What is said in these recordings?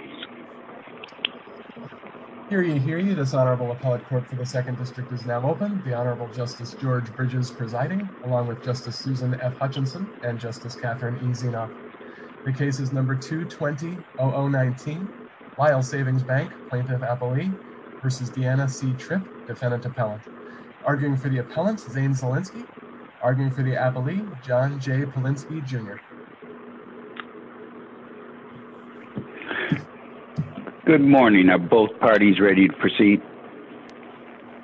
v. Deanna C. Tripp Defendant Appellant. Arguing for the Appellants, Zane Zielinski. Arguing for the Appellee, John J. Polinsky, Jr. Good morning. Are both parties ready to proceed?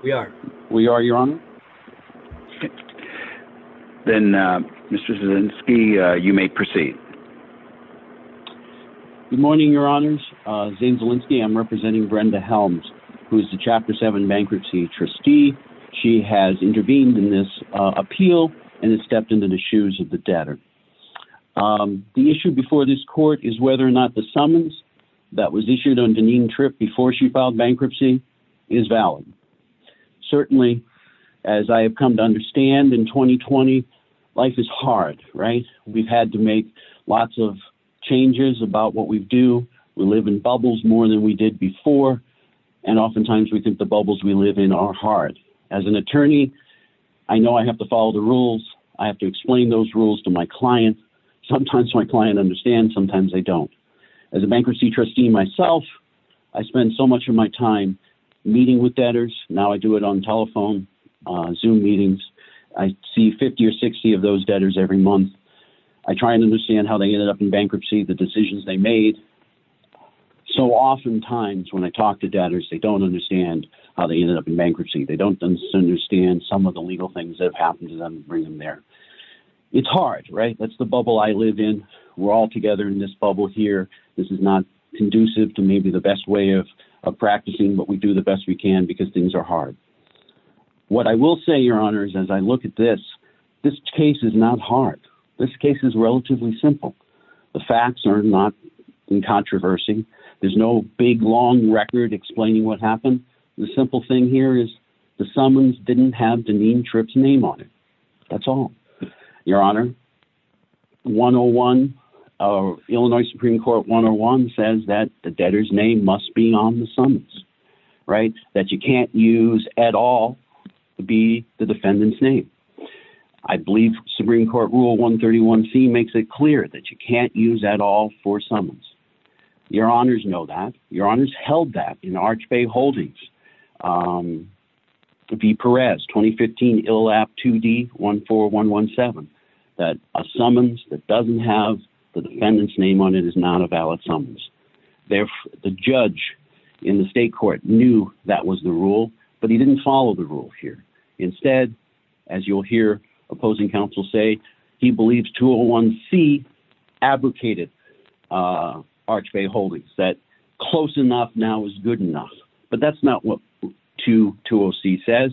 We are. We are, Your Honor. Then, Mr. Zielinski, you may proceed. Good morning, Your Honors. Zane Zielinski, I'm representing Brenda Helms, who is the Chapter 7 bankruptcy trustee. She has intervened in this appeal and has stepped into the shoes of the debtor. The issue before this court is whether or not the summons that was issued on Deneen Tripp before she filed bankruptcy is valid. Certainly, as I have come to understand, in 2020, life is hard, right? We've had to make lots of changes about what we do. We live in bubbles more than we did before. And oftentimes we think the bubbles we live in are hard. As an attorney, I know I have to follow the rules. I have to explain those rules to my clients. Sometimes my clients understand, sometimes they don't. As a bankruptcy trustee myself, I spend so much of my time meeting with debtors. Now I do it on telephone, Zoom meetings. I see 50 or 60 of those debtors every month. I try and understand how they ended up in bankruptcy, the decisions they made. So oftentimes when I talk to debtors, they don't understand how they ended up in bankruptcy. They don't understand some of the legal things that have happened to them and bring them there. It's hard, right? That's the bubble I live in. We're all together in this bubble here. This is not conducive to maybe the best way of practicing, but we do the best we can because things are hard. What I will say, Your Honor, is as I look at this, this case is not hard. This case is relatively simple. The facts are not in controversy. There's no big, long record explaining what happened. The simple thing here is the summons didn't have Dineen Tripp's name on it. That's all. Your Honor, 101, Illinois Supreme Court 101 says that the debtor's name must be on the summons, right? That you can't use at all to be the defendant's name. I believe Supreme Court Rule 131C makes it clear that you can't use at all for summons. Your Honors know that. Your Honors held that in Arch Bay Holdings. V. Perez, 2015 ILAP 2D 14117, that a summons that doesn't have the defendant's name on it is not a valid summons. The judge in the state court knew that was the rule, but he didn't follow the rule here. Instead, as you'll hear opposing counsel say, he believes 201C advocated Arch Bay Holdings, that close enough now is good enough. But that's not what 220C says.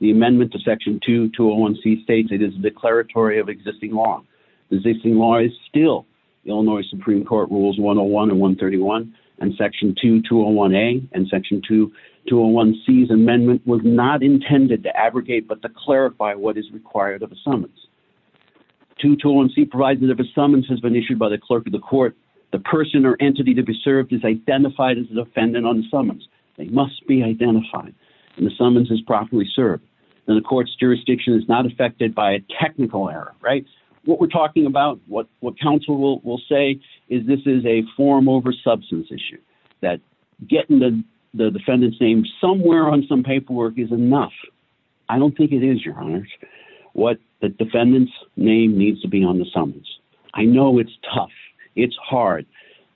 The amendment to section 2201C states it is a declaratory of existing law. Existing law is still Illinois Supreme Court Rules 101 and 131, and section 2201A and section 2201C's amendment was not intended to abrogate but to clarify what is required of a summons. 2201C provides that if a summons has been issued by the clerk of the court, the person or entity to be served is identified as a defendant on the summons. They must be identified. And the summons is properly served. And the court's jurisdiction is not affected by a technical error, right? What we're talking about, what counsel will say, is this is a form over substance issue, that getting the defendant's name somewhere on some paperwork is enough. I don't think it is, Your Honors. What the defendant's name needs to be on the summons. I know it's tough. It's hard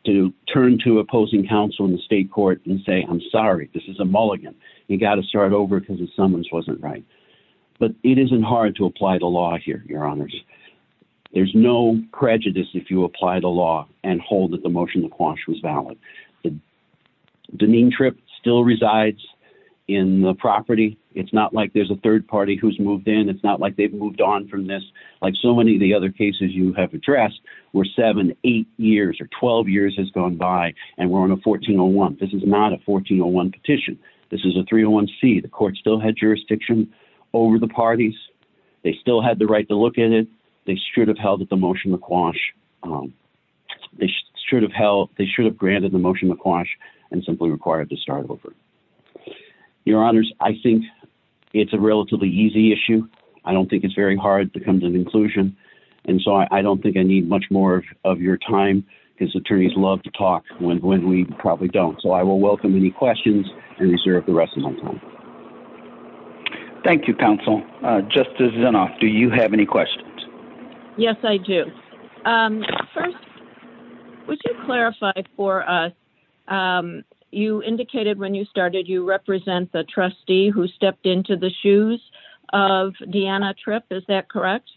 to turn to opposing counsel in the state court and say, I'm sorry, this is a mulligan. You've got to start over because the summons wasn't right. But it isn't hard to apply the law here, Your Honors. There's no prejudice if you apply the law and hold that the motion to quash was valid. The demean trip still resides in the property. It's not like there's a third party who's moved in. It's not like they've moved on from this. Like so many of the other cases you have addressed where seven, eight years or 12 years has gone by and we're on a 1401. This is not a 1401 petition. This is a 301C. The court still had jurisdiction over the parties. They still had the right to look at it. They should have held the motion to quash. They should have held, they should have granted the motion to quash and simply required to start over. Your Honors, I think it's a relatively easy issue. I don't think it's very hard to come to an inclusion. And so I don't think I need much more of your time because attorneys love to talk when we probably don't. So I will welcome any questions and reserve the rest of my time. Thank you, counsel. Justice Zinoff, do you have any questions? Yes, I do. First, would you clarify for us, you indicated when you started you represent the trustee who stepped into the shoes of Deanna Tripp. Is that correct?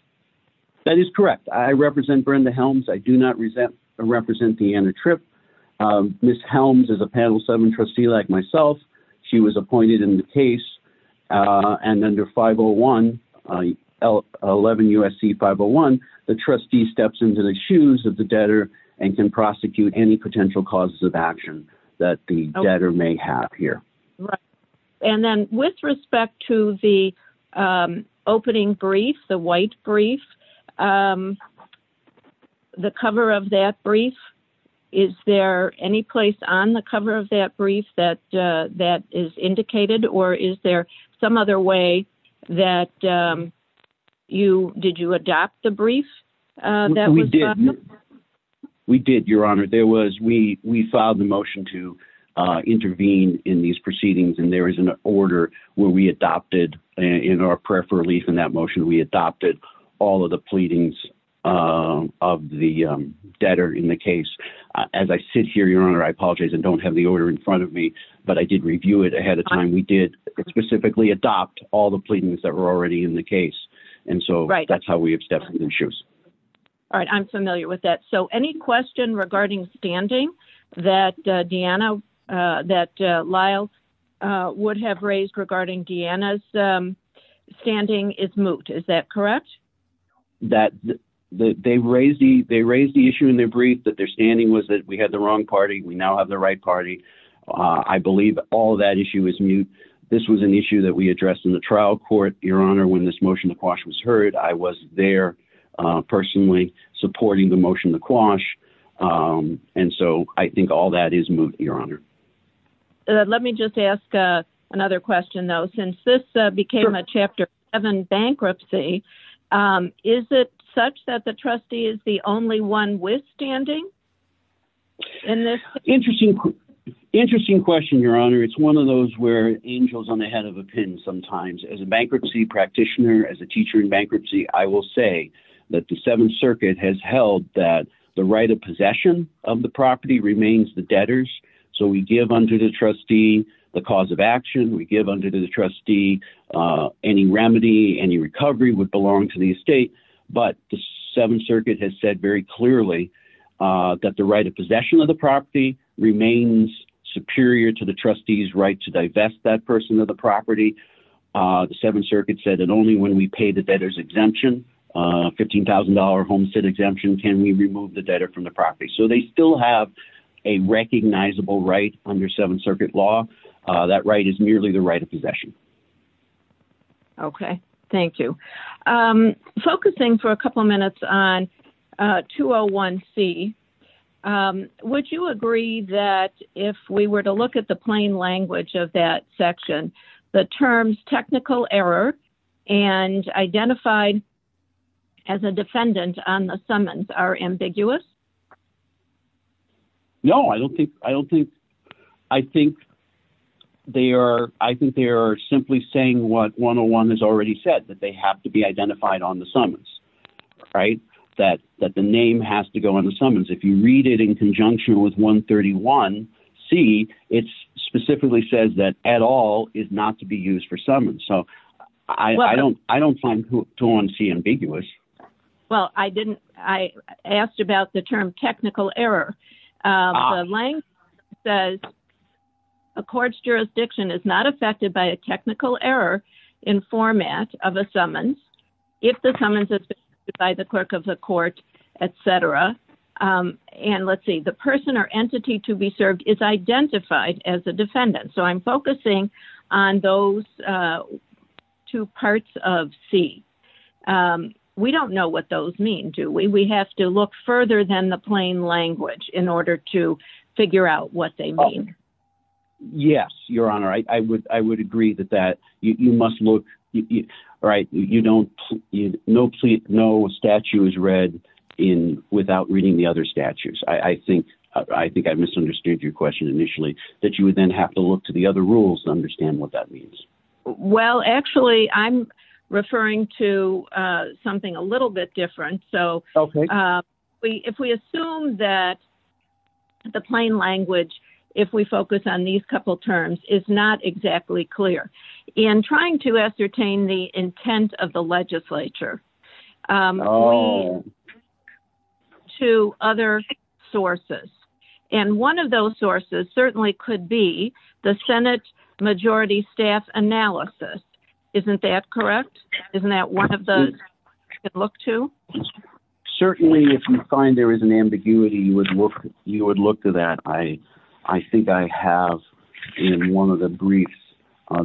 That is correct. I represent Brenda Helms. I do not represent Deanna Tripp. Ms. Helms is a panel seven trustee like myself. She was appointed in the case. And under 501, 11 USC 501, the trustee steps into the shoes of the debtor and can prosecute any potential causes of action that the debtor may have here. Right. And then with respect to the opening brief, the white brief, the cover of that brief, is there any place on the cover of that brief that that is indicated? Or is there some other way that you did you adopt the brief that we did? We did, Your Honor. We filed the motion to intervene in these proceedings, and there is an order where we adopted in our prayer for relief in that motion. We adopted all of the pleadings of the debtor in the case. As I sit here, Your Honor, I apologize and don't have the order in front of me, but I did review it ahead of time. We did specifically adopt all the pleadings that were already in the case. And so that's how we have stepped into the shoes. All right. I'm familiar with that. So any question regarding standing that Deanna that Lyle would have raised regarding Deanna's standing is moot. Is that correct? That they raised the they raised the issue in their brief that their standing was that we had the wrong party. We now have the right party. I believe all that issue is moot. This was an issue that we addressed in the trial court. Your Honor, when this motion was heard, I was there personally supporting the motion. The quash. And so I think all that is moot, Your Honor. Let me just ask another question, though, since this became a chapter seven bankruptcy. Is it such that the trustee is the only one withstanding? And this interesting, interesting question, Your Honor. It's one of those where angels on the head of a pin sometimes as a bankruptcy practitioner, as a teacher in bankruptcy. I will say that the Seventh Circuit has held that the right of possession of the property remains the debtors. So we give under the trustee the cause of action. We give under the trustee any remedy. Any recovery would belong to the estate. But the Seventh Circuit has said very clearly that the right of possession of the property remains superior to the trustee's right to divest that person of the property. The Seventh Circuit said that only when we pay the debtor's exemption, $15,000 homestead exemption, can we remove the debtor from the property. So they still have a recognizable right under Seventh Circuit law. That right is merely the right of possession. OK, thank you. Focusing for a couple of minutes on 201C, would you agree that if we were to look at the plain language of that section, the terms technical error and identified as a defendant on the summons are ambiguous? No, I don't think they are. I think they are simply saying what 101 has already said, that they have to be identified on the summons, that the name has to go on the summons. If you read it in conjunction with 131C, it specifically says that at all is not to be used for summons. So I don't find 201C ambiguous. Well, I didn't, I asked about the term technical error. The language says a court's jurisdiction is not affected by a technical error in format of a summons, if the summons is by the clerk of the court, etc. And let's see, the person or entity to be served is identified as a defendant. So I'm focusing on those two parts of C. We don't know what those mean, do we? We have to look further than the plain language in order to figure out what they mean. Yes, Your Honor, I would agree with that. You must look, right, you don't, no statute is read without reading the other statutes. I think I misunderstood your question initially, that you would then have to look to the other rules to understand what that means. Well, actually, I'm referring to something a little bit different. So if we assume that the plain language, if we focus on these couple terms, is not exactly clear. In trying to ascertain the intent of the legislature to other sources. And one of those sources certainly could be the Senate majority staff analysis. Isn't that correct? Isn't that one of the look to? Certainly, if you find there is an ambiguity, you would look to that. I think I have in one of the briefs,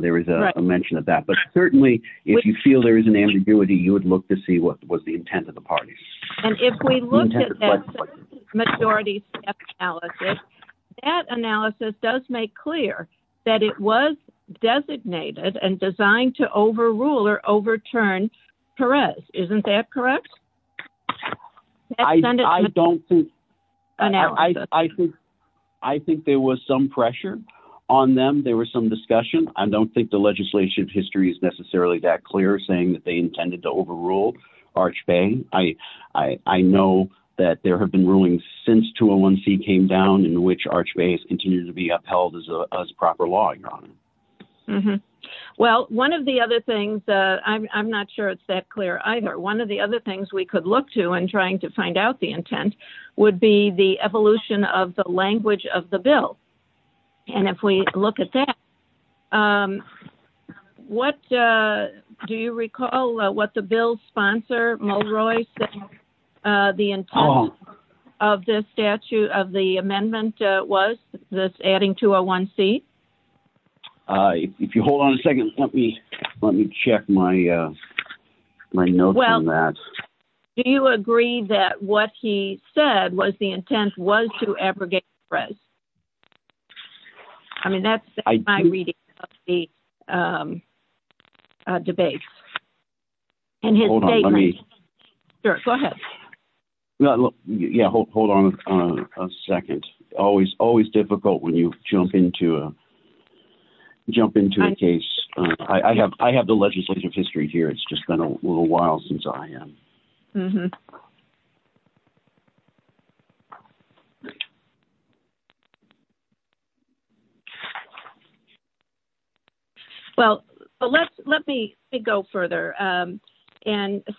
there is a mention of that. But certainly, if you feel there is an ambiguity, you would look to see what was the intent of the party. And if we look at that majority staff analysis, that analysis does make clear that it was designated and designed to overrule or overturn Perez. Isn't that correct? I think there was some pressure on them. There was some discussion. I don't think the legislative history is necessarily that clear, saying that they intended to overrule Arch Bay. I know that there have been rulings since 201C came down in which Arch Bay has continued to be upheld as a proper law, Your Honor. Well, one of the other things, I'm not sure it's that clear either. One of the other things we could look to in trying to find out the intent would be the evolution of the language of the bill. And if we look at that, do you recall what the bill's sponsor, Mulroy, said the intent of the amendment was, this adding 201C? If you hold on a second, let me check my notes on that. Well, do you agree that what he said was the intent was to abrogate Perez? I mean, that's my reading of the debate. Hold on. Go ahead. Yeah, hold on a second. It's always difficult when you jump into a case. I have the legislative history here. It's just been a little while since I am. Well, let me go further and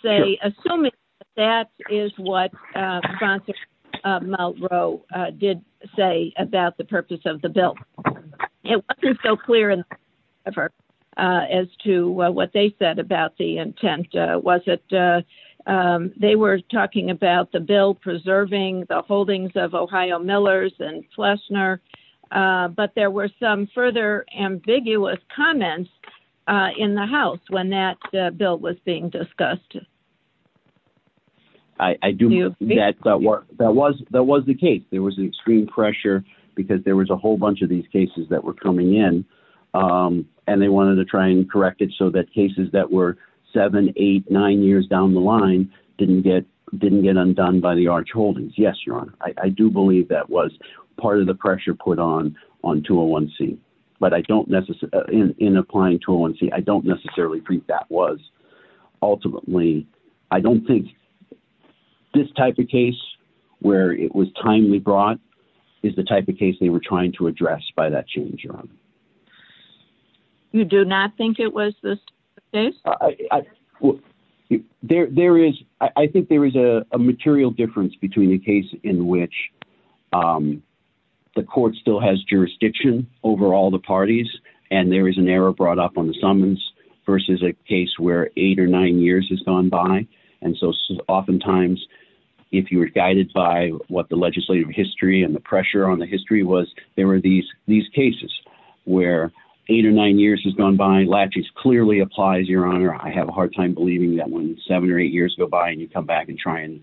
say, assuming that is what sponsor Mulroy did say about the purpose of the bill. It wasn't so clear as to what they said about the intent. They were talking about the bill preserving the holdings of Ohio Millers and Fleshner. But there were some further ambiguous comments in the House when that bill was being discussed. I do know that was the case. There was an extreme pressure because there was a whole bunch of these cases that were coming in. And they wanted to try and correct it so that cases that were seven, eight, nine years down the line didn't get undone by the Arch Holdings. Yes, Your Honor. I do believe that was part of the pressure put on on 201C. But I don't necessarily, in applying 201C, I don't necessarily think that was. I don't think this type of case, where it was timely brought, is the type of case they were trying to address by that change, Your Honor. You do not think it was this type of case? I think there is a material difference between a case in which the court still has jurisdiction over all the parties, and there is an error brought up on the summons versus a case where eight or nine years has gone by. And so oftentimes, if you were guided by what the legislative history and the pressure on the history was, there were these cases where eight or nine years has gone by. Laches clearly applies, Your Honor. I have a hard time believing that when seven or eight years go by and you come back and try and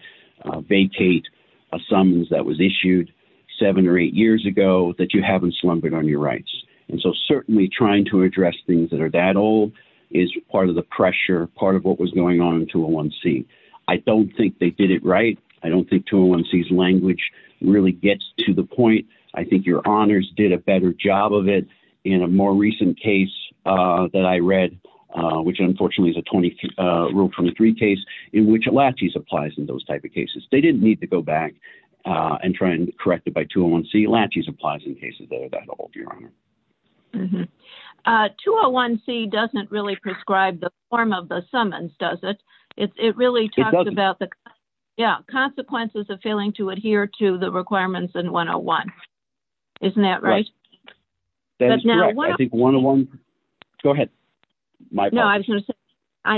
vacate a summons that was issued seven or eight years ago, that you haven't slumbered on your rights. And so certainly trying to address things that are that old is part of the pressure, part of what was going on in 201C. I don't think they did it right. I don't think 201C's language really gets to the point. I think Your Honors did a better job of it in a more recent case that I read, which unfortunately is a Rule 23 case in which Laches applies in those type of cases. They didn't need to go back and try and correct it by 201C. Laches applies in cases that are that old, Your Honor. 201C doesn't really prescribe the form of the summons, does it? It really talks about the consequences of failing to adhere to the requirements in 101. Isn't that right? That is correct. Go ahead.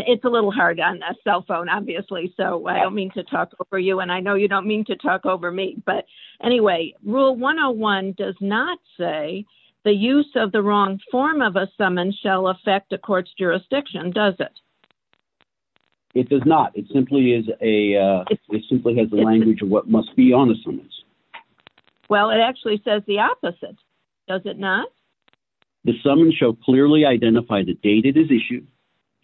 It's a little hard on a cell phone, obviously, so I don't mean to talk over you, and I know you don't mean to talk over me. But anyway, Rule 101 does not say the use of the wrong form of a summons shall affect a court's jurisdiction, does it? It does not. It simply has the language of what must be on the summons. Well, it actually says the opposite, does it not? The summons shall clearly identify the date it is issued,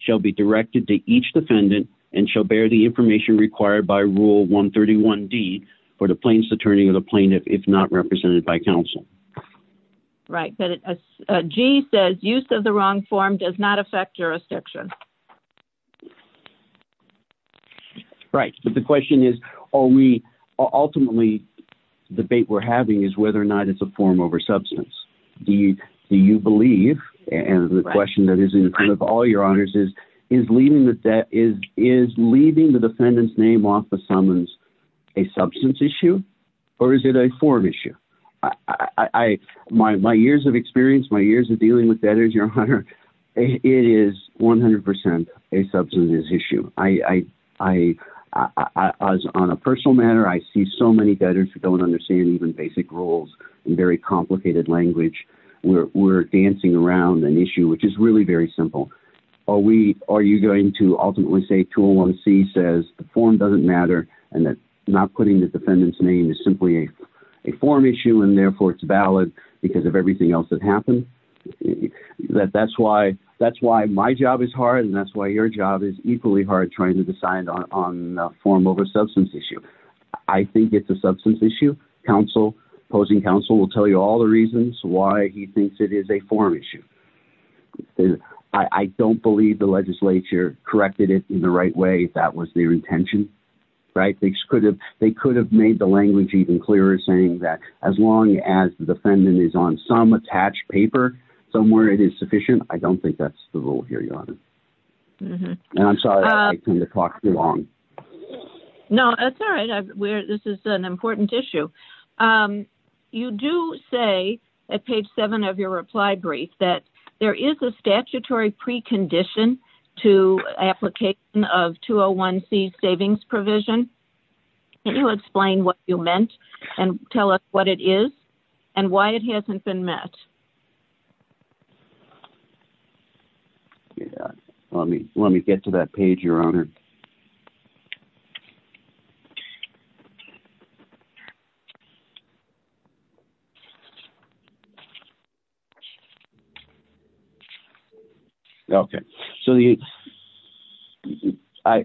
shall be directed to each defendant, and shall bear the information required by Rule 131D for the plaintiff's attorney or the plaintiff if not represented by counsel. Right, but G says use of the wrong form does not affect jurisdiction. Right, but the question is, ultimately, the debate we're having is whether or not it's a form over substance. Do you believe, and the question that is in front of all Your Honors is, is leaving the defendant's name off the summons a substance issue, or is it a form issue? My years of experience, my years of dealing with debtors, Your Honor, it is 100% a substance issue. On a personal matter, I see so many debtors who don't understand even basic rules and very complicated language. We're dancing around an issue, which is really very simple. Are you going to ultimately say Tool 1C says the form doesn't matter and that not putting the defendant's name is simply a form issue and therefore it's valid because of everything else that happened? That's why my job is hard and that's why your job is equally hard trying to decide on a form over substance issue. I think it's a substance issue. Counsel, opposing counsel, will tell you all the reasons why he thinks it is a form issue. I don't believe the legislature corrected it in the right way. That was their intention, right? They could have made the language even clearer, saying that as long as the defendant is on some attached paper, somewhere it is sufficient. I don't think that's the rule here, Your Honor. And I'm sorry to talk too long. No, that's all right. This is an important issue. You do say at page 7 of your reply brief that there is a statutory precondition to application of 201C savings provision. Can you explain what you meant and tell us what it is and why it hasn't been met? Let me get to that page, Your Honor. Okay. So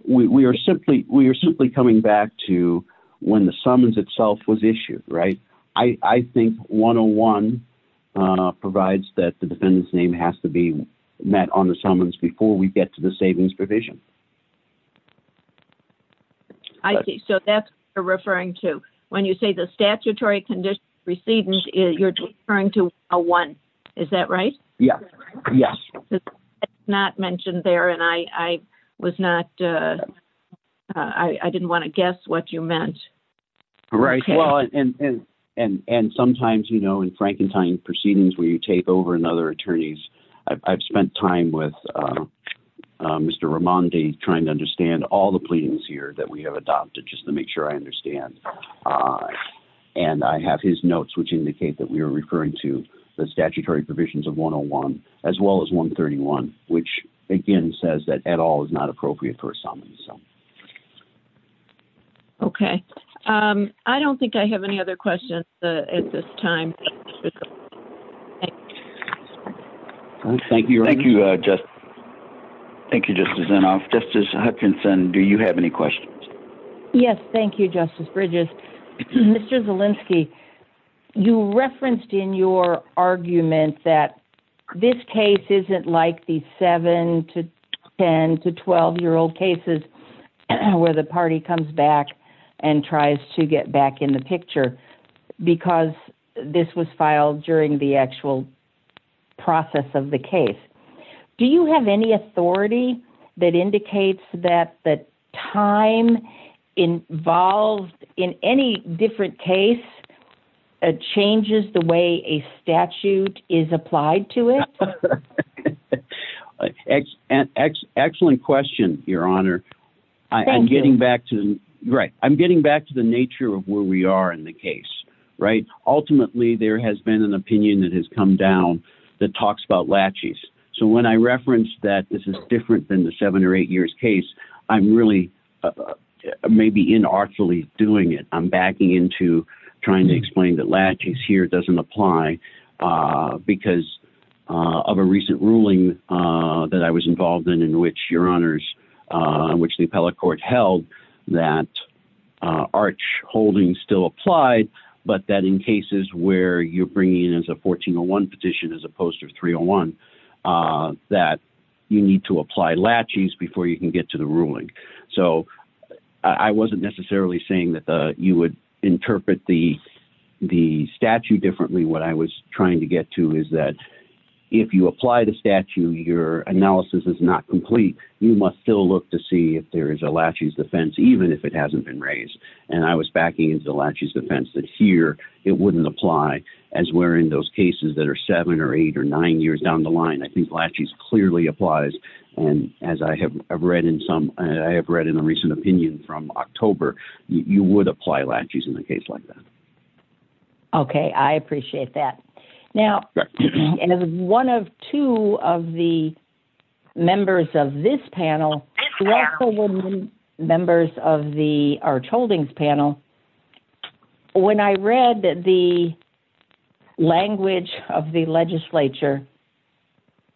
we are simply coming back to when the summons itself was issued, right? I think 101 provides that the defendant's name has to be met on the summons before we get to the savings provision. I see. So that's what you're referring to. When you say the statutory precedent, you're referring to a one. Is that right? Yes. It's not mentioned there, and I didn't want to guess what you meant. Right. And sometimes, you know, in Frankentine proceedings where you take over and other attorneys, I've spent time with Mr. Ramondi trying to understand all the pleadings here that we have adopted just to make sure I understand. And I have his notes, which indicate that we are referring to the statutory provisions of 101 as well as 131, which, again, says that at all is not appropriate for a summons. Okay. I don't think I have any other questions at this time. Thank you. Thank you, Justice. Thank you, Justice Inhofe. Justice Hutchinson, do you have any questions? Yes. Thank you, Justice Bridges. Mr. Zalinsky, you referenced in your argument that this case isn't like the 7 to 10 to 12-year-old cases where the party comes back and tries to get back in the picture because this was filed during the actual process of the case. Do you have any authority that indicates that the time involved in any different case changes the way a statute is applied to it? Excellent question, Your Honor. Thank you. I'm getting back to the nature of where we are in the case, right? So when I referenced that this is different than the 7 or 8-years case, I'm really maybe inartfully doing it. I'm backing into trying to explain that laches here doesn't apply because of a recent ruling that I was involved in in which, Your Honors, which the appellate court held that arch holding still applied, but that in cases where you're bringing in as a 1401 petition as opposed to 301, that you need to apply laches before you can get to the ruling. So I wasn't necessarily saying that you would interpret the statute differently. What I was trying to get to is that if you apply the statute, your analysis is not complete. You must still look to see if there is a laches defense, even if it hasn't been raised. And I was backing into the laches defense that here it wouldn't apply as we're in those cases that are 7 or 8 or 9 years down the line. I think laches clearly applies. And as I have read in a recent opinion from October, you would apply laches in a case like that. Okay. I appreciate that. Now, as one of two of the members of this panel, who also were members of the arch holdings panel, when I read the language of the legislature,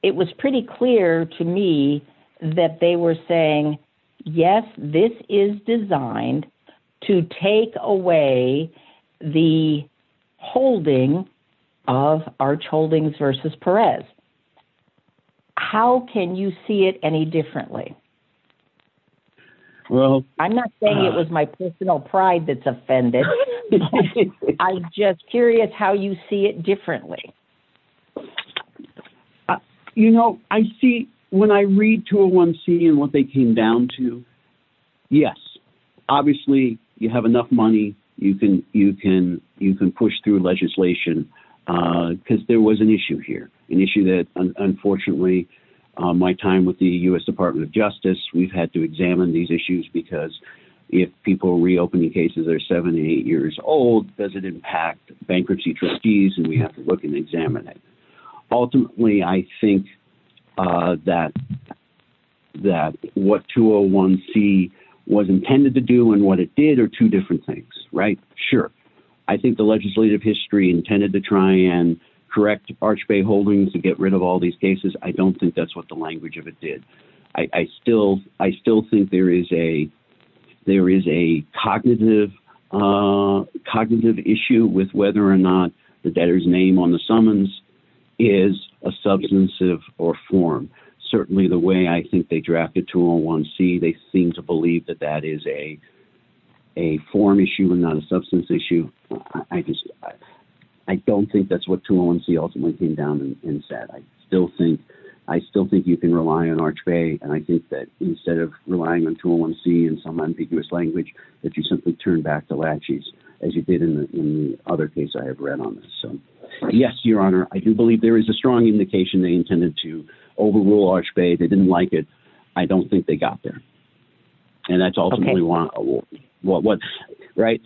it was pretty clear to me that they were saying, yes, this is designed to take away the holding of arch holdings versus Perez. How can you see it any differently? I'm not saying it was my personal pride that's offended. I'm just curious how you see it differently. You know, I see when I read 201C and what they came down to, yes. Obviously, you have enough money. You can push through legislation. Because there was an issue here. An issue that, unfortunately, my time with the U.S. Department of Justice, we've had to examine these issues because if people are reopening cases that are 7 or 8 years old, does it impact bankruptcy trustees? And we have to look and examine it. Ultimately, I think that what 201C was intended to do and what it did are two different things. Right? Sure. I think the legislative history intended to try and correct arch bay holdings and get rid of all these cases. I don't think that's what the language of it did. I still think there is a cognitive issue with whether or not the debtor's name on the summons is a substantive or form. Certainly the way I think they drafted 201C, they seem to believe that that is a form issue and not a substance issue. I don't think that's what 201C ultimately came down and said. I still think you can rely on arch bay. And I think that instead of relying on 201C in some ambiguous language, that you simply turn back to latches, as you did in the other case I have read on this. So, yes, your honor, I do believe there is a strong indication they intended to overrule arch bay. They didn't like it. I don't think they got there. And that's ultimately what, right?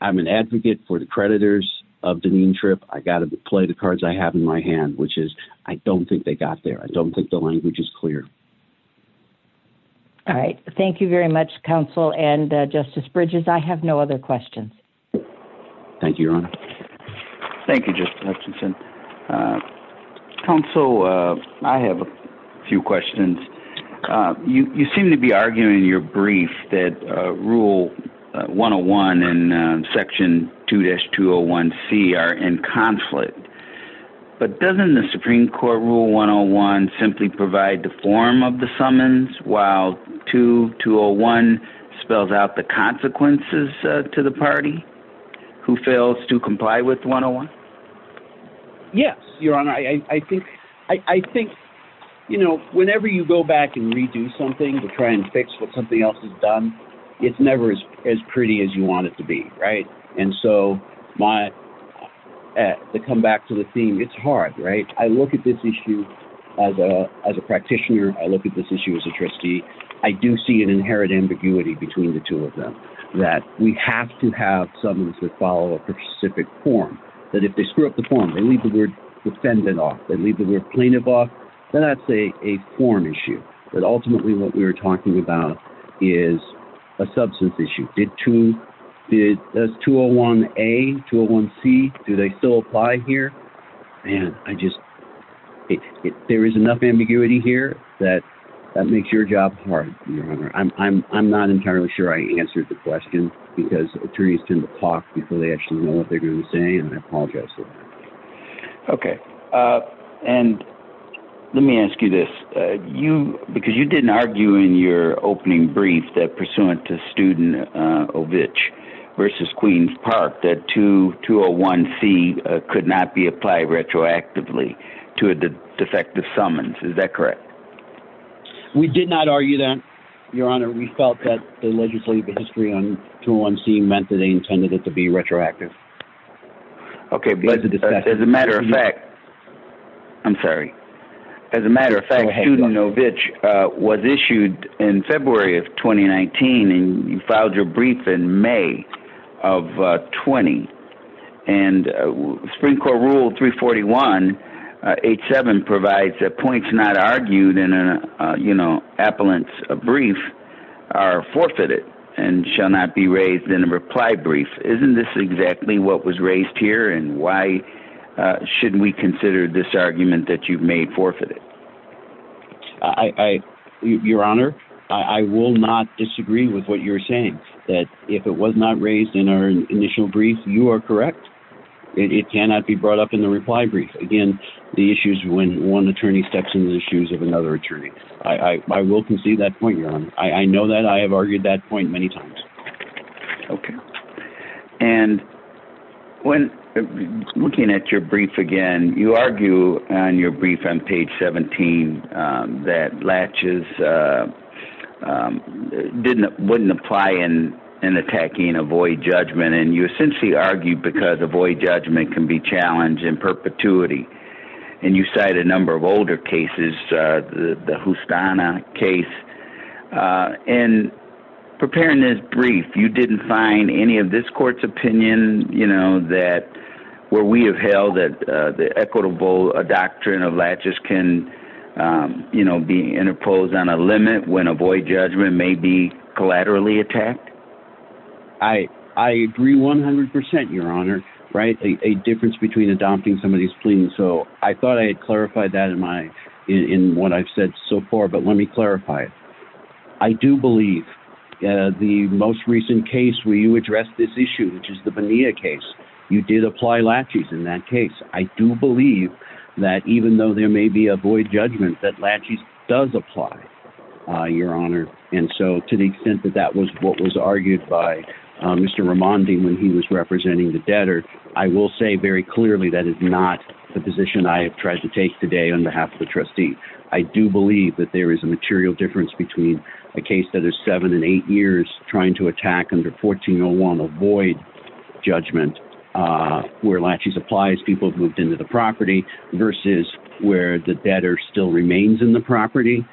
I'm an advocate for the creditors of Dineen Trip. I got to play the cards I have in my hand, which is I don't think they got there. I don't think the language is clear. All right. Thank you very much, counsel, and Justice Bridges. I have no other questions. Thank you, your honor. Thank you, Justice Hutchinson. Counsel, I have a few questions. You seem to be arguing in your brief that rule 101 and section 2-201C are in conflict. But doesn't the Supreme Court rule 101 simply provide the form of the summons while 2-201 spells out the consequences to the party who fails to comply with 101? Yes, your honor. I think, you know, whenever you go back and redo something to try and fix what something else has done, it's never as pretty as you want it to be, right? And so to come back to the theme, it's hard, right? I look at this issue as a practitioner. I look at this issue as a trustee. I do see an inherent ambiguity between the two of them, that we have to have summons that follow a specific form, that if they screw up the form, they leave the word defendant off, they leave the word plaintiff off, then that's a form issue. But ultimately what we are talking about is a substance issue. Does 2-201A, 2-201C, do they still apply here? And I just, there is enough ambiguity here that that makes your job hard, your honor. I'm not entirely sure I answered the question because attorneys tend to talk before they actually know what they're going to say and I apologize for that. Okay. And let me ask you this. You, because you didn't argue in your opening brief that pursuant to Studentovich versus Queens Park, that 2-201C could not be applied retroactively to a defective summons. Is that correct? We did not argue that, your honor. We felt that the legislative history on 2-201C meant that they intended it to be retroactive. Okay. As a matter of fact, I'm sorry. As a matter of fact, Studentovich was issued in February of 2019 and you filed your brief in May of 20. And Supreme Court Rule 341.87 provides that points not argued in an, you know, appellant's brief are forfeited and shall not be raised in a reply brief. Isn't this exactly what was raised here and why shouldn't we consider this argument that you've made forfeited? Your honor, I will not disagree with what you're saying. That if it was not raised in our initial brief, you are correct. It cannot be brought up in the reply brief. Again, the issues when one attorney steps in the shoes of another attorney. I will concede that point, your honor. I know that. I have argued that point many times. Okay. And looking at your brief again, you argue on your brief on page 17 that latches wouldn't apply in attacking avoid judgment. And you essentially argue because avoid judgment can be challenged in perpetuity. And you cite a number of older cases, the Justana case. And preparing this brief, you didn't find any of this court's opinion, you know, that where we have held that the equitable doctrine of latches can, you know, be interposed on a limit when avoid judgment may be collaterally attacked? I agree 100%, your honor. Right. A difference between adopting somebody's plea. And so I thought I had clarified that in what I've said so far, but let me clarify it. I do believe the most recent case where you addressed this issue, which is the Bonilla case, you did apply latches in that case. I do believe that even though there may be avoid judgment, that latches does apply, your honor. And so to the extent that that was what was argued by Mr. Ramondi when he was representing the debtor, I will say very clearly that is not the position I have tried to take today on behalf of the trustee. I do believe that there is a material difference between a case that is seven and eight years trying to attack under 1401 avoid judgment where latches applies, people have moved into the property, versus where the debtor still remains in the property.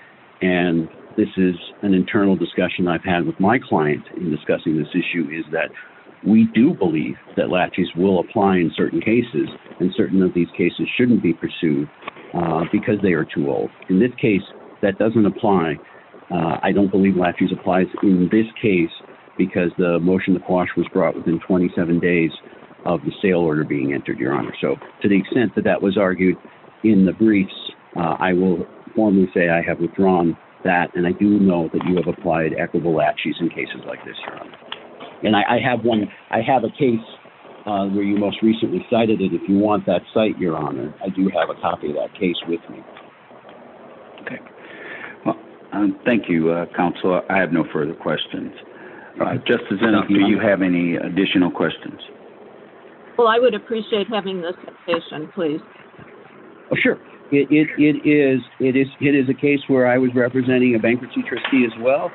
And this is an internal discussion I've had with my client in discussing this issue is that we do believe that latches will apply in certain cases and certain of these cases shouldn't be pursued because they are too old. In this case, that doesn't apply. I don't believe latches applies in this case, because the motion to quash was brought within 27 days of the sale order being entered, your honor. So to the extent that that was argued in the briefs, I will formally say I have withdrawn that and I do know that you have applied equitable latches in cases like this, your honor. And I have one, I have a case where you most recently cited it if you want that site, your honor. I do have a copy of that case with me. Okay. Well, thank you, Counselor. I have no further questions. Just as you have any additional questions. Well, I would appreciate having this presentation, please. Oh, sure. It is a case where I was representing a bankruptcy trustee as well.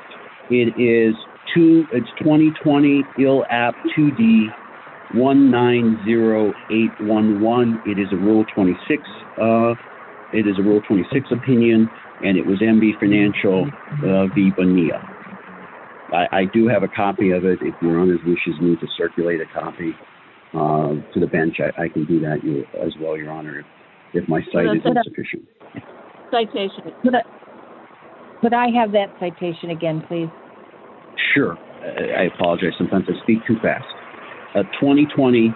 It is 2020 ILAP2D190811. It is a Rule 26 opinion. And it was MB Financial v. Bonilla. I do have a copy of it. If your honor wishes me to circulate a copy to the bench, I can do that as well, your honor, if my sight isn't sufficient. Citation. Could I have that citation again, please? Sure. I apologize sometimes I speak too fast. 2020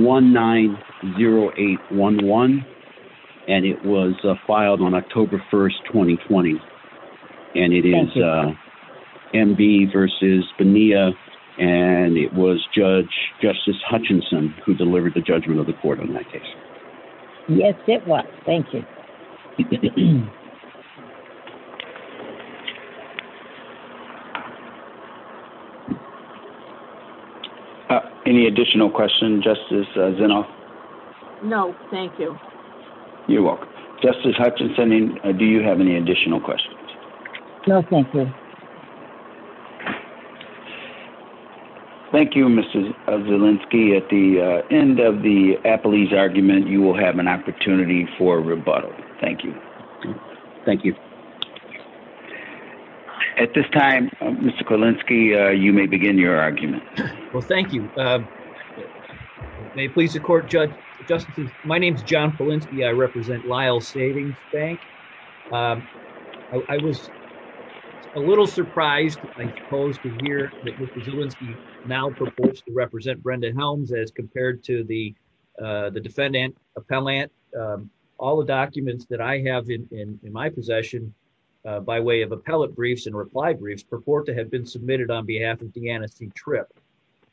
ILAP2D190811. And it was filed on October 1st, 2020. And it is MB v. Bonilla. And it was Judge Justice Hutchinson who delivered the judgment of the court on that case. Yes, it was. Thank you. Any additional questions, Justice Zinnoff? No, thank you. You're welcome. Justice Hutchinson, do you have any additional questions? No, thank you. Thank you, Mr. Zielinski. At the end of the appellee's argument, you will have an opportunity for rebuttal. Thank you. Thank you. At this time, Mr. Kulinski, you may begin your argument. Well, thank you. May it please the court, Judge. My name is John Kulinski. I represent Lyle Savings Bank. I was a little surprised when I posed to hear that Mr. Zielinski now proposed to represent Brenda Helms as compared to the defendant appellant. All the documents that I have in my possession by way of appellate briefs and reply briefs purport to have been submitted on behalf of DeAnna C. Tripp.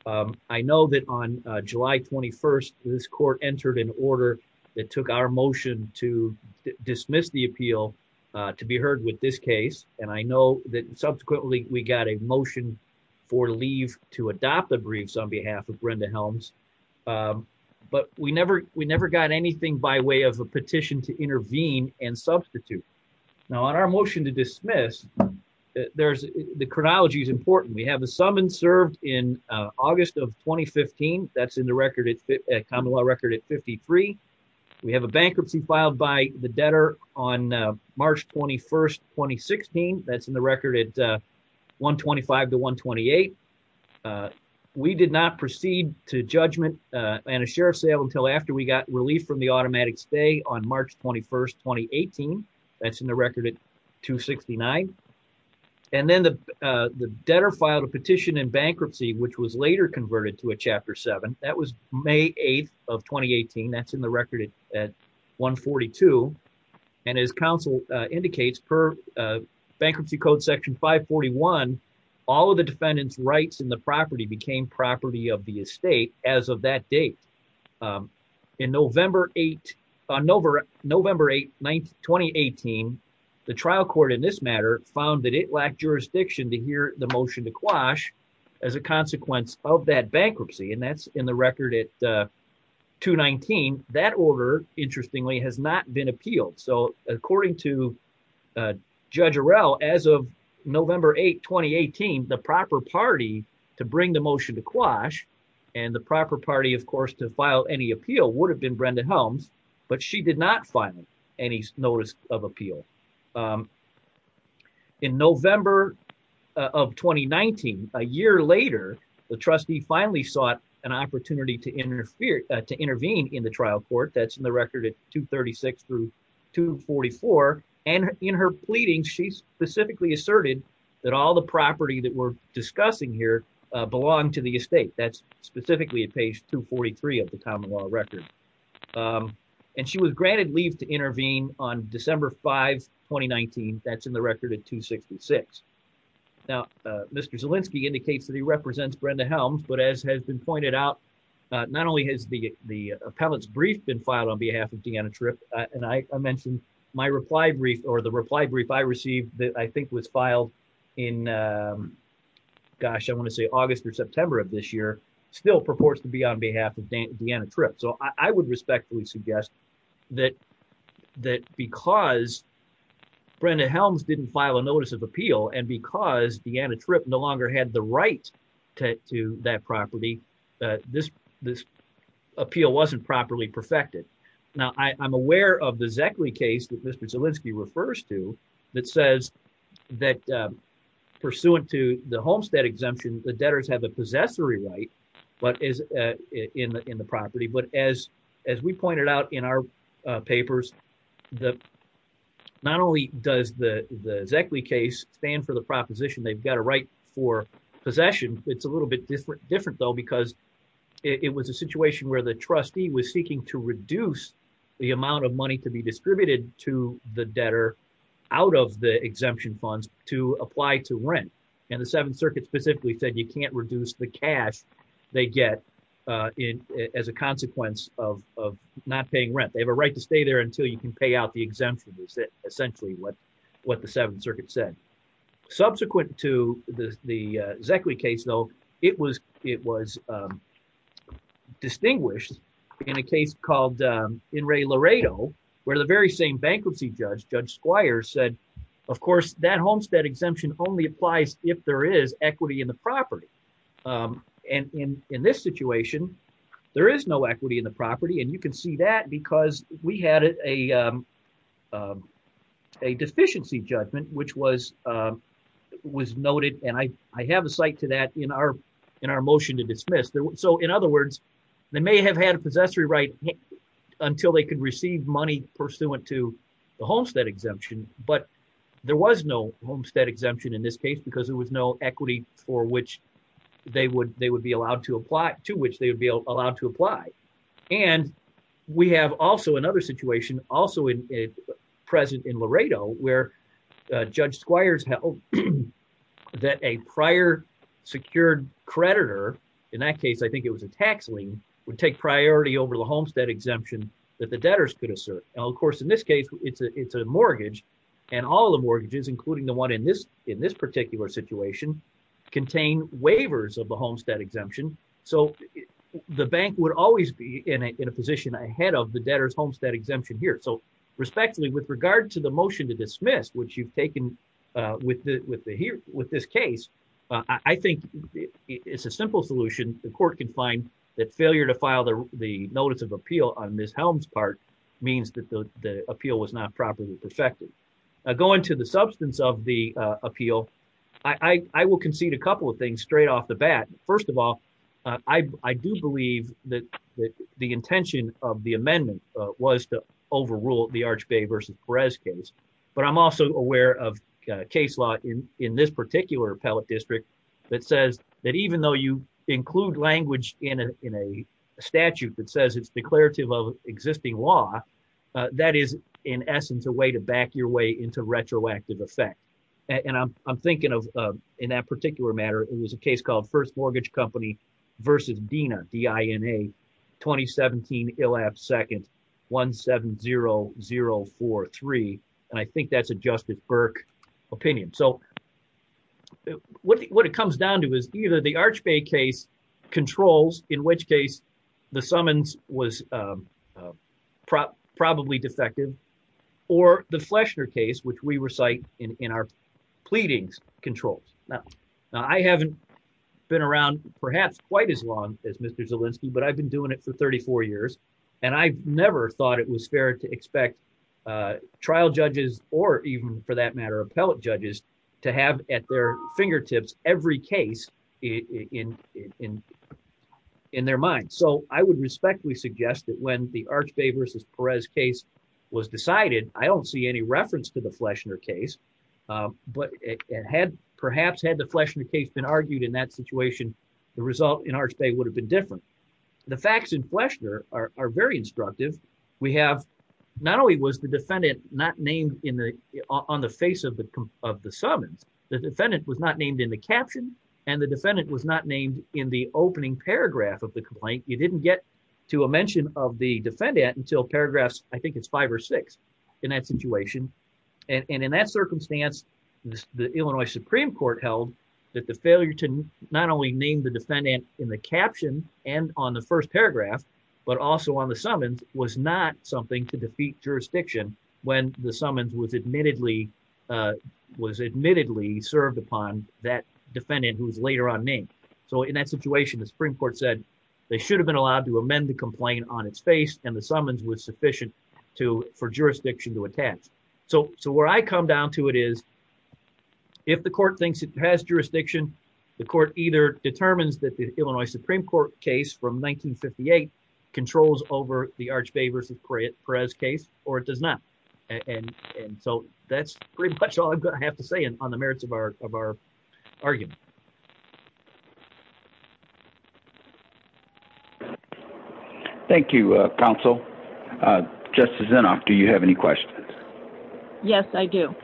I know that on July 21st, this court entered an order that took our motion to dismiss the appeal to be heard with this case. And I know that subsequently we got a motion for leave to adopt the briefs on behalf of Brenda Helms. But we never got anything by way of a petition to intervene and substitute. Now, on our motion to dismiss, the chronology is important. We have a summons served in August of 2015. That's in the common law record at 53. We have a bankruptcy filed by the debtor on March 21st, 2016. That's in the record at 125 to 128. We did not proceed to judgment and a sheriff's sale until after we got relief from the automatic stay on March 21st, 2018. That's in the record at 269. And then the debtor filed a petition in bankruptcy, which was later converted to a Chapter 7. That was May 8th of 2018. That's in the record at 142. And as counsel indicates, per Bankruptcy Code Section 541, all of the defendant's rights in the property became property of the estate as of that date. In November 8, 2018, the trial court in this matter found that it lacked jurisdiction to hear the motion to quash as a consequence of that bankruptcy. And that's in the record at 219. That order, interestingly, has not been appealed. So according to Judge Arell, as of November 8, 2018, the proper party to bring the motion to quash and the proper party, of course, to file any appeal would have been Brenda Helms. But she did not file any notice of appeal. In November of 2019, a year later, the trustee finally sought an opportunity to intervene in the trial court. That's in the record at 236 through 244. And in her pleading, she specifically asserted that all the property that we're discussing here belonged to the estate. That's specifically at page 243 of the Tomilaw record. And she was granted leave to intervene on December 5, 2019. That's in the record at 266. Now, Mr. Zielinski indicates that he represents Brenda Helms. But as has been pointed out, not only has the appellant's brief been filed on behalf of Deanna Tripp, and I mentioned my reply brief or the reply brief I received that I think was filed in, gosh, I want to say August or September of this year, still purports to be on behalf of Deanna Tripp. So I would respectfully suggest that because Brenda Helms didn't file a notice of appeal and because Deanna Tripp no longer had the right to that property, this appeal wasn't properly perfected. Now, I'm aware of the Zeckley case that Mr. Zielinski refers to that says that pursuant to the Homestead exemption, the debtors have a possessory right in the property. But as we pointed out in our papers, not only does the Zeckley case stand for the proposition they've got a right for possession, it's a little bit different though because it was a situation where the trustee was seeking to reduce the amount of money to be distributed to the debtor out of the exemption funds to apply to rent. And the Seventh Circuit specifically said you can't reduce the cash they get as a consequence of not paying rent. They have a right to stay there until you can pay out the exemption is essentially what the Seventh Circuit said. Subsequent to the Zeckley case, though, it was distinguished in a case called In re Laredo, where the very same bankruptcy judge, Judge Squire said, of course, that Homestead exemption only applies if there is equity in the property. And in this situation, there is no equity in the property. And you can see that because we had a deficiency judgment, which was noted. And I have a site to that in our motion to dismiss. So in other words, they may have had a possessory right until they could receive money pursuant to the Homestead exemption, but there was no Homestead exemption in this case because there was no equity for which they would they would be allowed to apply to which they would be allowed to apply. And we have also another situation also in present in Laredo, where Judge Squires held that a prior secured creditor. In that case, I think it was a tax lien would take priority over the Homestead exemption that the debtors could assert. And of course, in this case, it's a it's a mortgage and all the mortgages, including the one in this in this particular situation, contain waivers of the Homestead exemption. So the bank would always be in a position ahead of the debtors Homestead exemption here. So respectfully, with regard to the motion to dismiss, which you've taken with the with the here with this case, I think it's a simple solution. And the court can find that failure to file the notice of appeal on Ms. Helms part means that the appeal was not properly perfected. Going to the substance of the appeal. I will concede a couple of things straight off the bat. First of all, I do believe that the intention of the amendment was to overrule the Arch Bay versus Perez case. But I'm also aware of case law in in this particular district that says that even though you include language in a statute that says it's declarative of existing law, that is, in essence, a way to back your way into retroactive effect. And I'm thinking of, in that particular matter, it was a case called First Mortgage Company versus Dina Dina 2017 elapsed second 170043. And I think that's a Justice Burke opinion. So what it comes down to is either the Arch Bay case controls, in which case the summons was probably defective or the Flesher case, which we recite in our pleadings controls. I haven't been around, perhaps, quite as long as Mr Zelinsky but I've been doing it for 34 years, and I never thought it was fair to expect trial judges, or even for that matter appellate judges to have at their fingertips, every case in, in, in, in their mind. So, I would respectfully suggest that when the Arch Bay versus Perez case was decided, I don't see any reference to the Flesher case, but it had perhaps had the Flesher case been argued in that situation, the result in our state would have been different. The facts in Flesher are very instructive. We have not only was the defendant, not named in the on the face of the, of the summons, the defendant was not named in the caption, and the defendant was not named in the opening paragraph of the complaint, you didn't get to a mention of the defendant until paragraphs, I think it's five or six in that situation. And in that circumstance, the Illinois Supreme Court held that the failure to not only name the defendant in the caption, and on the first paragraph, but also on the summons was not something to defeat jurisdiction, when the summons was admittedly was admittedly served upon that defendant who was later on named. So, in that situation, the Supreme Court said they should have been allowed to amend the complaint on its face and the summons was sufficient to for jurisdiction to attach. So, so where I come down to it is, if the court thinks it has jurisdiction, the court either determines that the Illinois Supreme Court case from 1958 controls over the Arch Bay versus Perez case, or it does not. And so that's pretty much all I have to say on the merits of our, of our argument. Thank you, counsel. Just as enough. Do you have any questions. Yes, I do.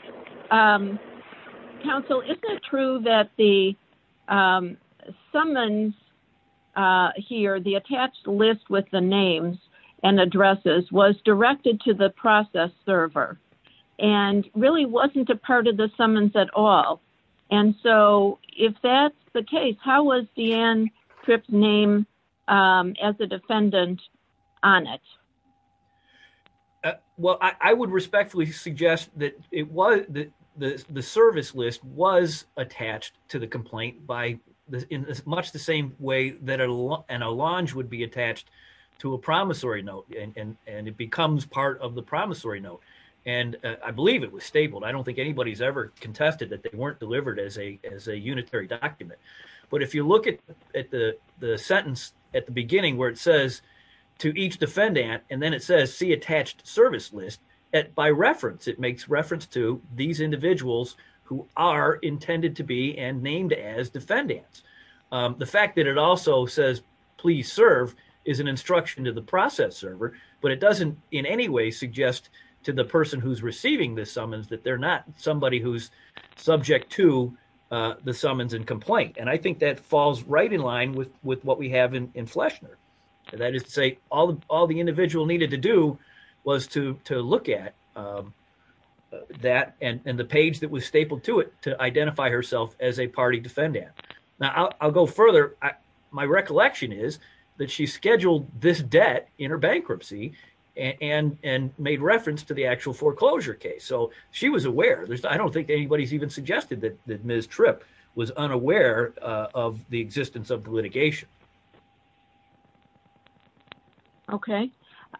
Counsel, is it true that the summons. Here the attached list with the names and addresses was directed to the process server and really wasn't a part of the summons at all. And so, if that's the case, how was the end trip name as a defendant on it. Well, I would respectfully suggest that it was the service list was attached to the complaint by this in this much the same way that a lot and a launch would be attached to a promissory note, and it becomes part of the promissory note. And I believe it was stapled I don't think anybody's ever contested that they weren't delivered as a as a unitary document. But if you look at the sentence at the beginning where it says to each defendant, and then it says see attached service list at by reference it makes reference to these individuals who are intended to be and named as defendants. The fact that it also says, please serve is an instruction to the process server, but it doesn't in any way suggest to the person who's receiving this summons that they're not somebody who's subject to the summons and complaint and I think that falls right in line with with what we have in Fleshner, that is to say, all the all the individual needed to do was to look at that and the page that was stapled to it to identify herself as a party defendant. And I'll go further, my recollection is that she scheduled this debt in her bankruptcy and and made reference to the actual foreclosure case so she was aware there's I don't think anybody's even suggested that that Miss trip was unaware of the existence of litigation. Okay.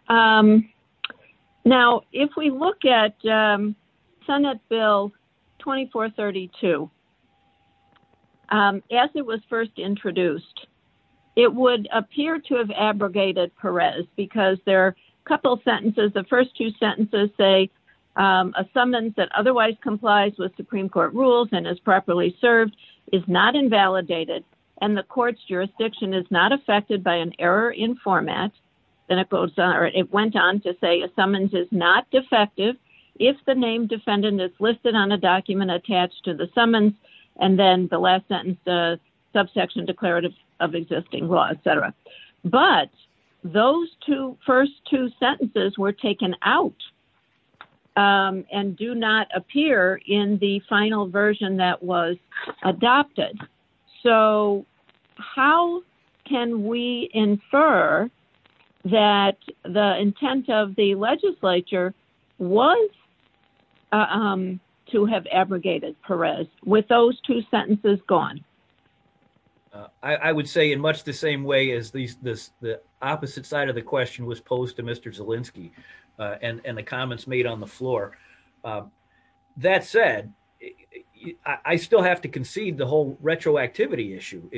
Now, if we look at Senate bill 2432. As it was first introduced. It would appear to have abrogated Perez, because there are a couple sentences the first two sentences say a summons that otherwise complies with Supreme Court rules and is properly served is not invalidated, and the courts jurisdiction is not affected by an error in format. And it goes, or it went on to say a summons is not defective. If the name defendant is listed on a document attached to the summons, and then the last sentence the subsection declarative of existing law, etc. But those two first two sentences were taken out. And do not appear in the final version that was adopted. So, how can we infer that the intent of the legislature was to have abrogated Perez with those two sentences gone. I would say in much the same way as these this the opposite side of the question was posed to Mr Zelinsky, and the comments made on the floor. That said, I still have to concede the whole retroactivity issue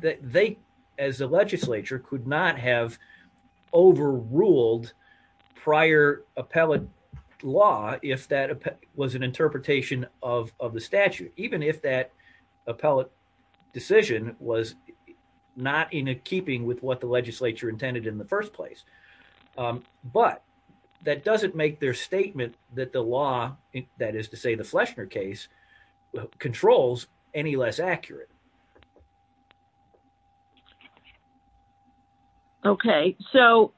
that they, as a legislature could not have overruled prior appellate law, if that was an interpretation of the statute, even if that appellate decision was not in keeping with what the legislature intended in the first place. But that doesn't make their statement that the law that is to say the Flesher case controls, any less accurate. Okay, so,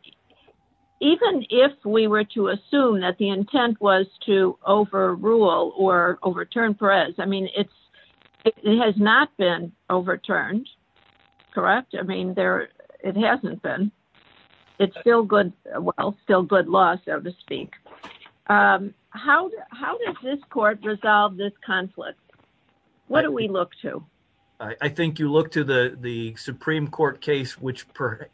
even if we were to assume that the intent was to overrule or overturn press I mean it's, it has not been overturned. Correct. I mean, there, it hasn't been. It's still good. Well, still good loss, so to speak. How, how does this court resolve this conflict. What do we look to, I think you look to the, the Supreme Court case which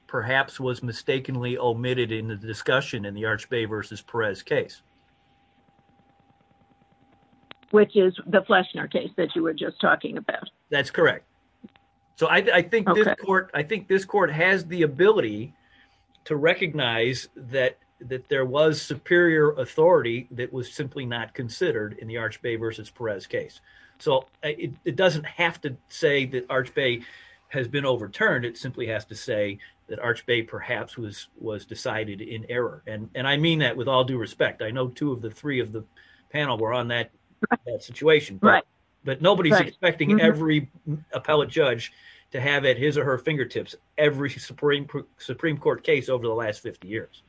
perhaps was mistakenly omitted in the discussion in the arch baby versus press case, which is the Flesher case that you were just talking about. That's correct. So I think, I think this court has the ability to recognize that that there was superior authority that was simply not considered in the arch baby versus press case. So, it doesn't have to say that arch baby has been overturned it simply has to say that arch baby perhaps was was decided in error and and I mean that with all due respect I know two of the three of the panel were on that situation. Right. But nobody's expecting every appellate judge to have it his or her fingertips, every Supreme Supreme Court case over the last 50 years.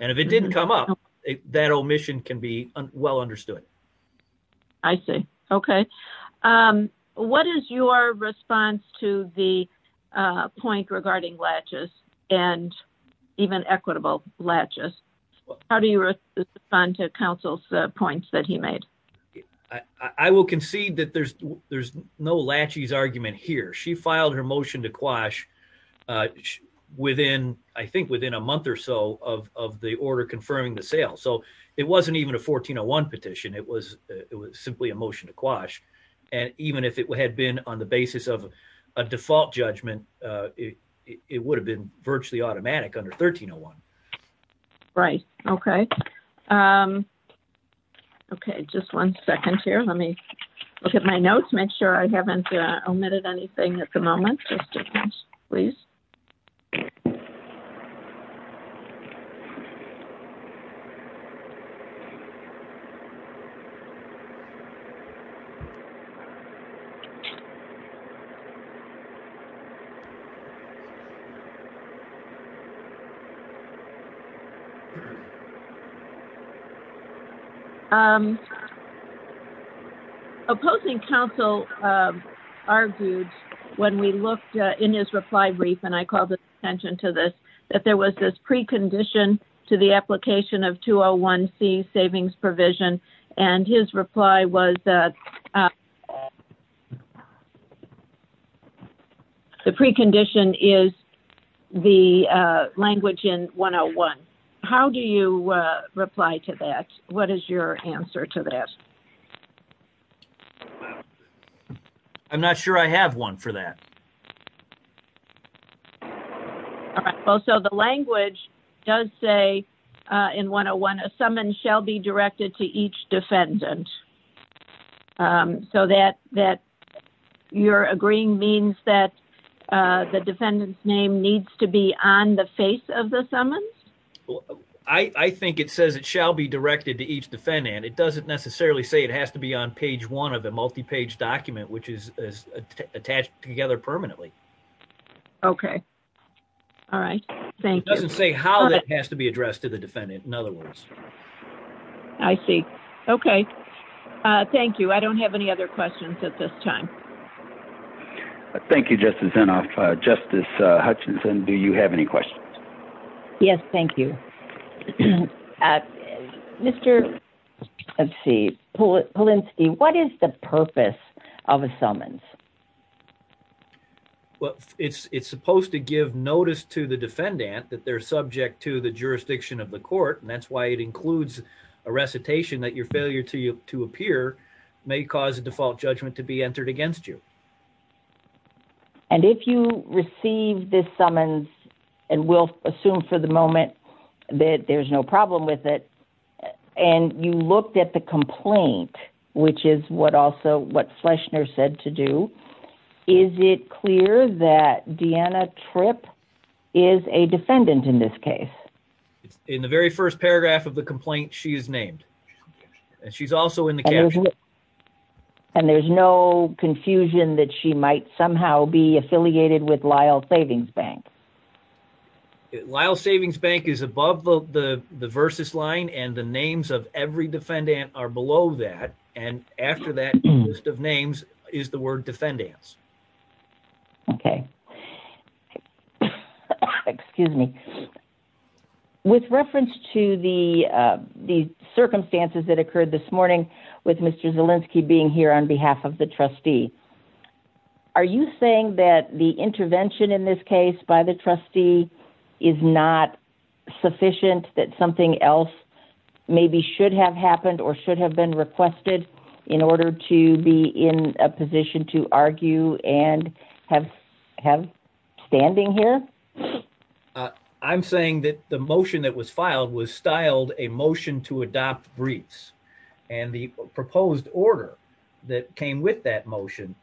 And if it didn't come up that omission can be well understood. I say, okay. What is your response to the point regarding latches, and even equitable latches. How do you respond to counsel's points that he made. I will concede that there's, there's no latches argument here she filed her motion to quash within, I think within a month or so of the order confirming the sale so it wasn't even a 1401 petition it was, it was simply a motion to quash. And even if it had been on the basis of a default judgment. It would have been virtually automatic under 1301. Right. Okay. Okay, just one second here, let me look at my notes, make sure I haven't omitted anything at the moment, please. Opposing Council argued, when we looked in his reply brief and I call the attention to this, that there was this precondition to the application of to a one C savings provision, and his reply was that the precondition is the language in one on one. How do you reply to that. What is your answer to that. I'm not sure I have one for that. So the language does say in one on one a summons shall be directed to each defendant. So that that you're agreeing means that the defendant's name needs to be on the face of the summons. I think it says it shall be directed to each defendant it doesn't necessarily say it has to be on page one of a multi page document which is attached together permanently. Okay. All right. Thank you. Doesn't say how that has to be addressed to the defendant. In other words, I see. Okay. Thank you. I don't have any other questions at this time. Thank you, Justice and Justice Hutchinson Do you have any questions. Yes, thank you. Mr. Let's see. What is the purpose of a summons. Well, it's it's supposed to give notice to the defendant that they're subject to the jurisdiction of the court and that's why it includes a recitation that your failure to you to appear may cause a default judgment to be entered against you. And if you receive this summons, and we'll assume for the moment that there's no problem with it. And you looked at the complaint, which is what also what Fleschner said to do. Is it clear that Deanna trip is a defendant in this case. In the very first paragraph of the complaint she is named. And there's no confusion that she might somehow be affiliated with Lyle Savings Bank. Lyle Savings Bank is above the versus line and the names of every defendant are below that. And after that list of names is the word defendants. Okay. Excuse me. With reference to the, the circumstances that occurred this morning with Mr Zelinsky being here on behalf of the trustee. Are you saying that the intervention in this case by the trustee is not sufficient that something else. Maybe should have happened or should have been requested in order to be in a position to argue and have have standing here. I'm saying that the motion that was filed was styled a motion to adopt briefs, and the proposed order that came with that motion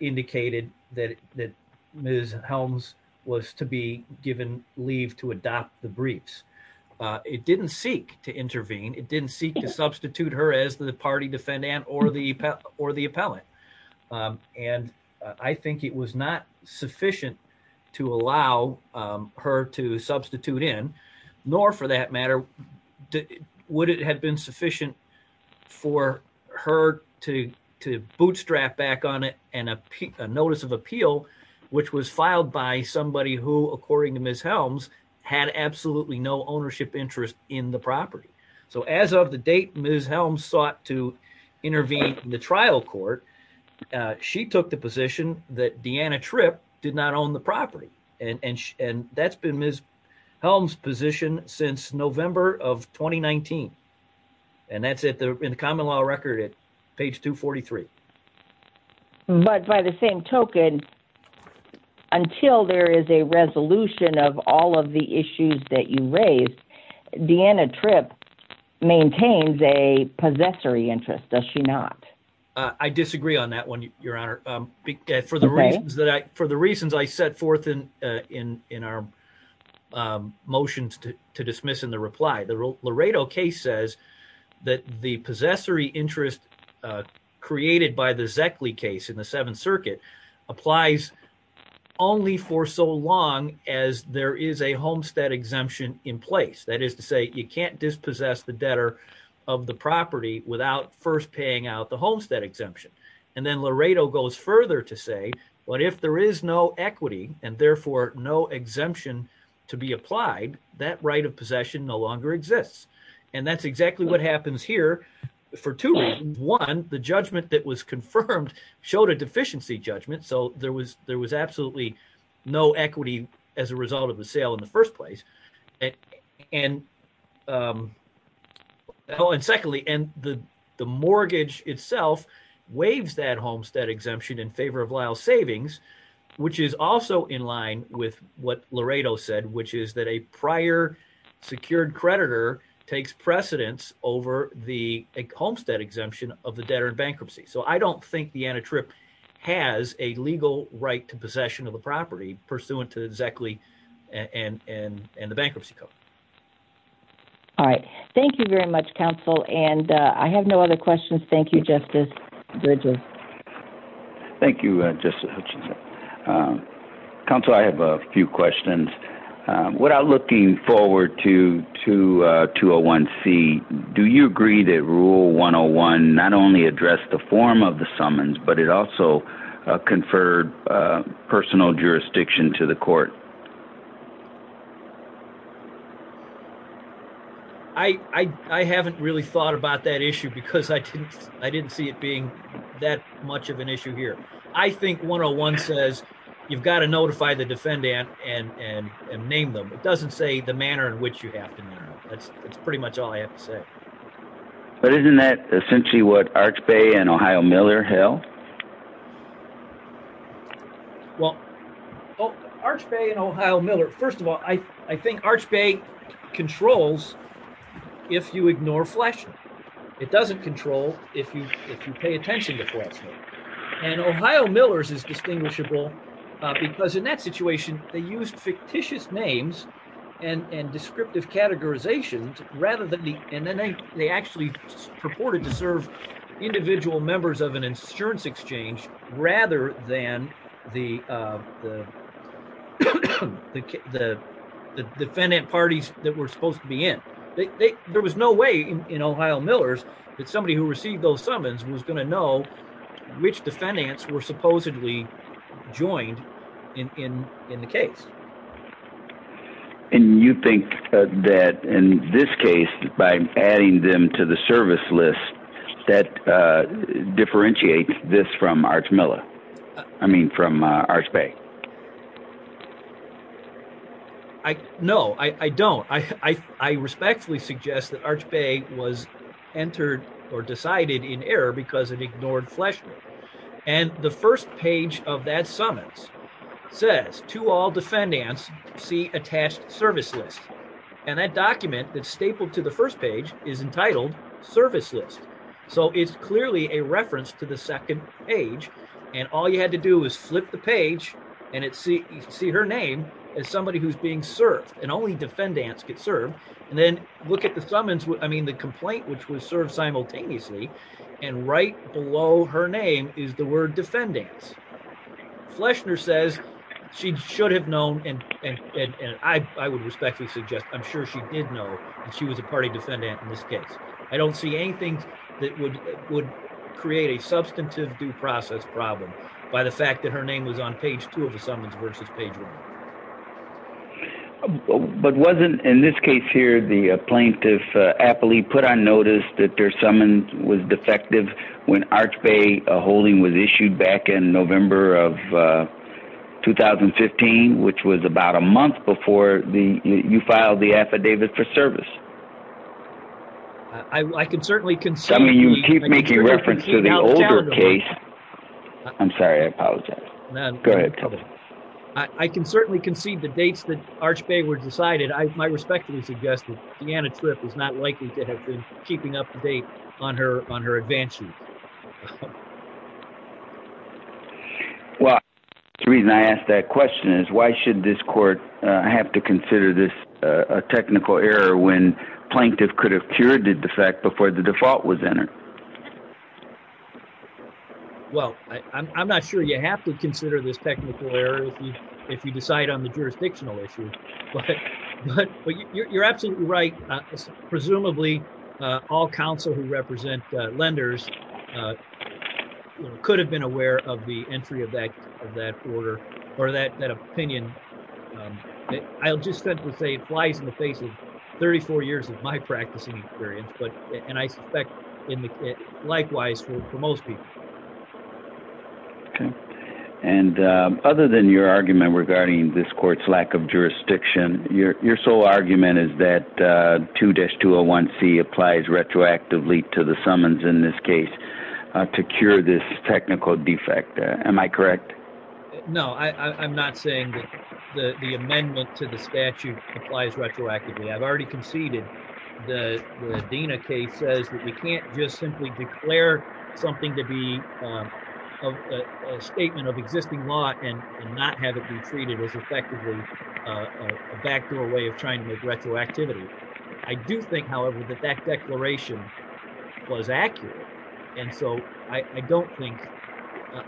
indicated that that Ms Helms was to be given leave to adopt the briefs. It didn't seek to intervene it didn't seek to substitute her as the party defendant or the or the appellate. And I think it was not sufficient to allow her to substitute in, nor for that matter. Would it have been sufficient for her to to bootstrap back on it, and a notice of appeal, which was filed by somebody who according to Ms Helms had absolutely no ownership interest in the property. So as of the date Ms Helms sought to intervene in the trial court. She took the position that Deanna trip did not own the property, and that's been Ms Helms position since November of 2019. And that's it there in the common law record at page 243. But by the same token, until there is a resolution of all of the issues that you raised Deanna trip maintains a possessory interest does she not. I disagree on that one, Your Honor, for the reasons that I for the reasons I set forth in in in our motions to dismiss in the reply the Laredo case says that the possessory interest, created by the exactly case in the Seventh Circuit applies. Only for so long as there is a homestead exemption in place that is to say you can't dispossess the debtor of the property without first paying out the homestead exemption. And then Laredo goes further to say, what if there is no equity, and therefore, no exemption to be applied that right of possession no longer exists. And that's exactly what happens here for two reasons. One, the judgment that was confirmed showed a deficiency judgment. So there was there was absolutely no equity as a result of the sale in the first place. And, and, and secondly, and the, the mortgage itself waves that homestead exemption in favor of Lyle savings, which is also in line with what Laredo said, which is that a prior secured creditor takes precedence over the homestead exemption of the debtor bankruptcy. So I don't think the antitrip has a legal right to possession of the property pursuant to exactly and and and the bankruptcy code. All right. Thank you very much, counsel, and I have no other questions. Thank you, Justice Bridges. Thank you, Justice Hutchinson. Counsel, I have a few questions. Without looking forward to to 201C, do you agree that Rule 101 not only addressed the form of the summons, but it also conferred personal jurisdiction to the court? I, I, I haven't really thought about that issue because I didn't, I didn't see it being that much of an issue here. I think one on one says, you've got to notify the defendant and and and name them. It doesn't say the manner in which you happen. That's, that's pretty much all I have to say. But isn't that essentially what Arch Bay and Ohio Miller Hill. Well, Arch Bay and Ohio Miller. First of all, I, I think Arch Bay controls. If you ignore flashing. It doesn't control if you if you pay attention to. And Ohio Millers is distinguishable, because in that situation, they used fictitious names and descriptive categorizations, rather than the, and then they actually purported to serve individual members of an insurance exchange, rather than the, the, the defendant parties that were supposed to be in. There was no way in Ohio Millers, that somebody who received those summons was going to know which defendants were supposedly joined in, in, in the case. And you think that in this case, by adding them to the service list that differentiate this from Arch Miller. I mean from Arch Bay. I know I don't I respectfully suggest that Arch Bay was entered or decided in error because it ignored flesh. And the first page of that summons says to all defendants see attached service list. And that document that stapled to the first page is entitled service list. So it's clearly a reference to the second page. And all you had to do is flip the page, and it see see her name as somebody who's being served, and only defendants get served, and then look at the summons what I mean the complaint which was served simultaneously, and right below her name is the word defendants Fleshner says she should have known, and I would respectfully suggest I'm sure she did know she was a party defendant in this case, I don't see anything that would would create a substantive due process problem by the fact that her name was on page two of the summons versus page one. But wasn't in this case here the plaintiff aptly put on notice that their summons was defective when Arch Bay holding was issued back in November of 2015, which was about a month before the you filed the affidavit for service. I can certainly can tell me you keep making reference to the older case. I'm sorry I apologize. Go ahead. I can certainly concede the dates that Arch Bay were decided I respectfully suggested the Anna trip is not likely to have been keeping up to date on her on her advances. Well, the reason I asked that question is why should this court have to consider this a technical error when plaintiff could have cured did the fact before the default was entered. Well, I'm not sure you have to consider this technical error. If you decide on the jurisdictional issue, but you're absolutely right. Presumably, all counsel who represent lenders could have been aware of the entry of that of that order, or that that opinion. I'll just simply say flies in the face of 34 years of my practicing experience but and I suspect in the likewise for most people. And other than your argument regarding this court's lack of jurisdiction, your, your sole argument is that to dash to a one C applies retroactively to the summons in this case to cure this technical defect. Am I correct. No, I'm not saying that the amendment to the statute applies retroactively I've already conceded the Dina case says that we can't just simply declare something to be a statement of existing law and not have it be treated as effectively. Back to a way of trying to make retroactivity. I do think, however, that that declaration was accurate. And so, I don't think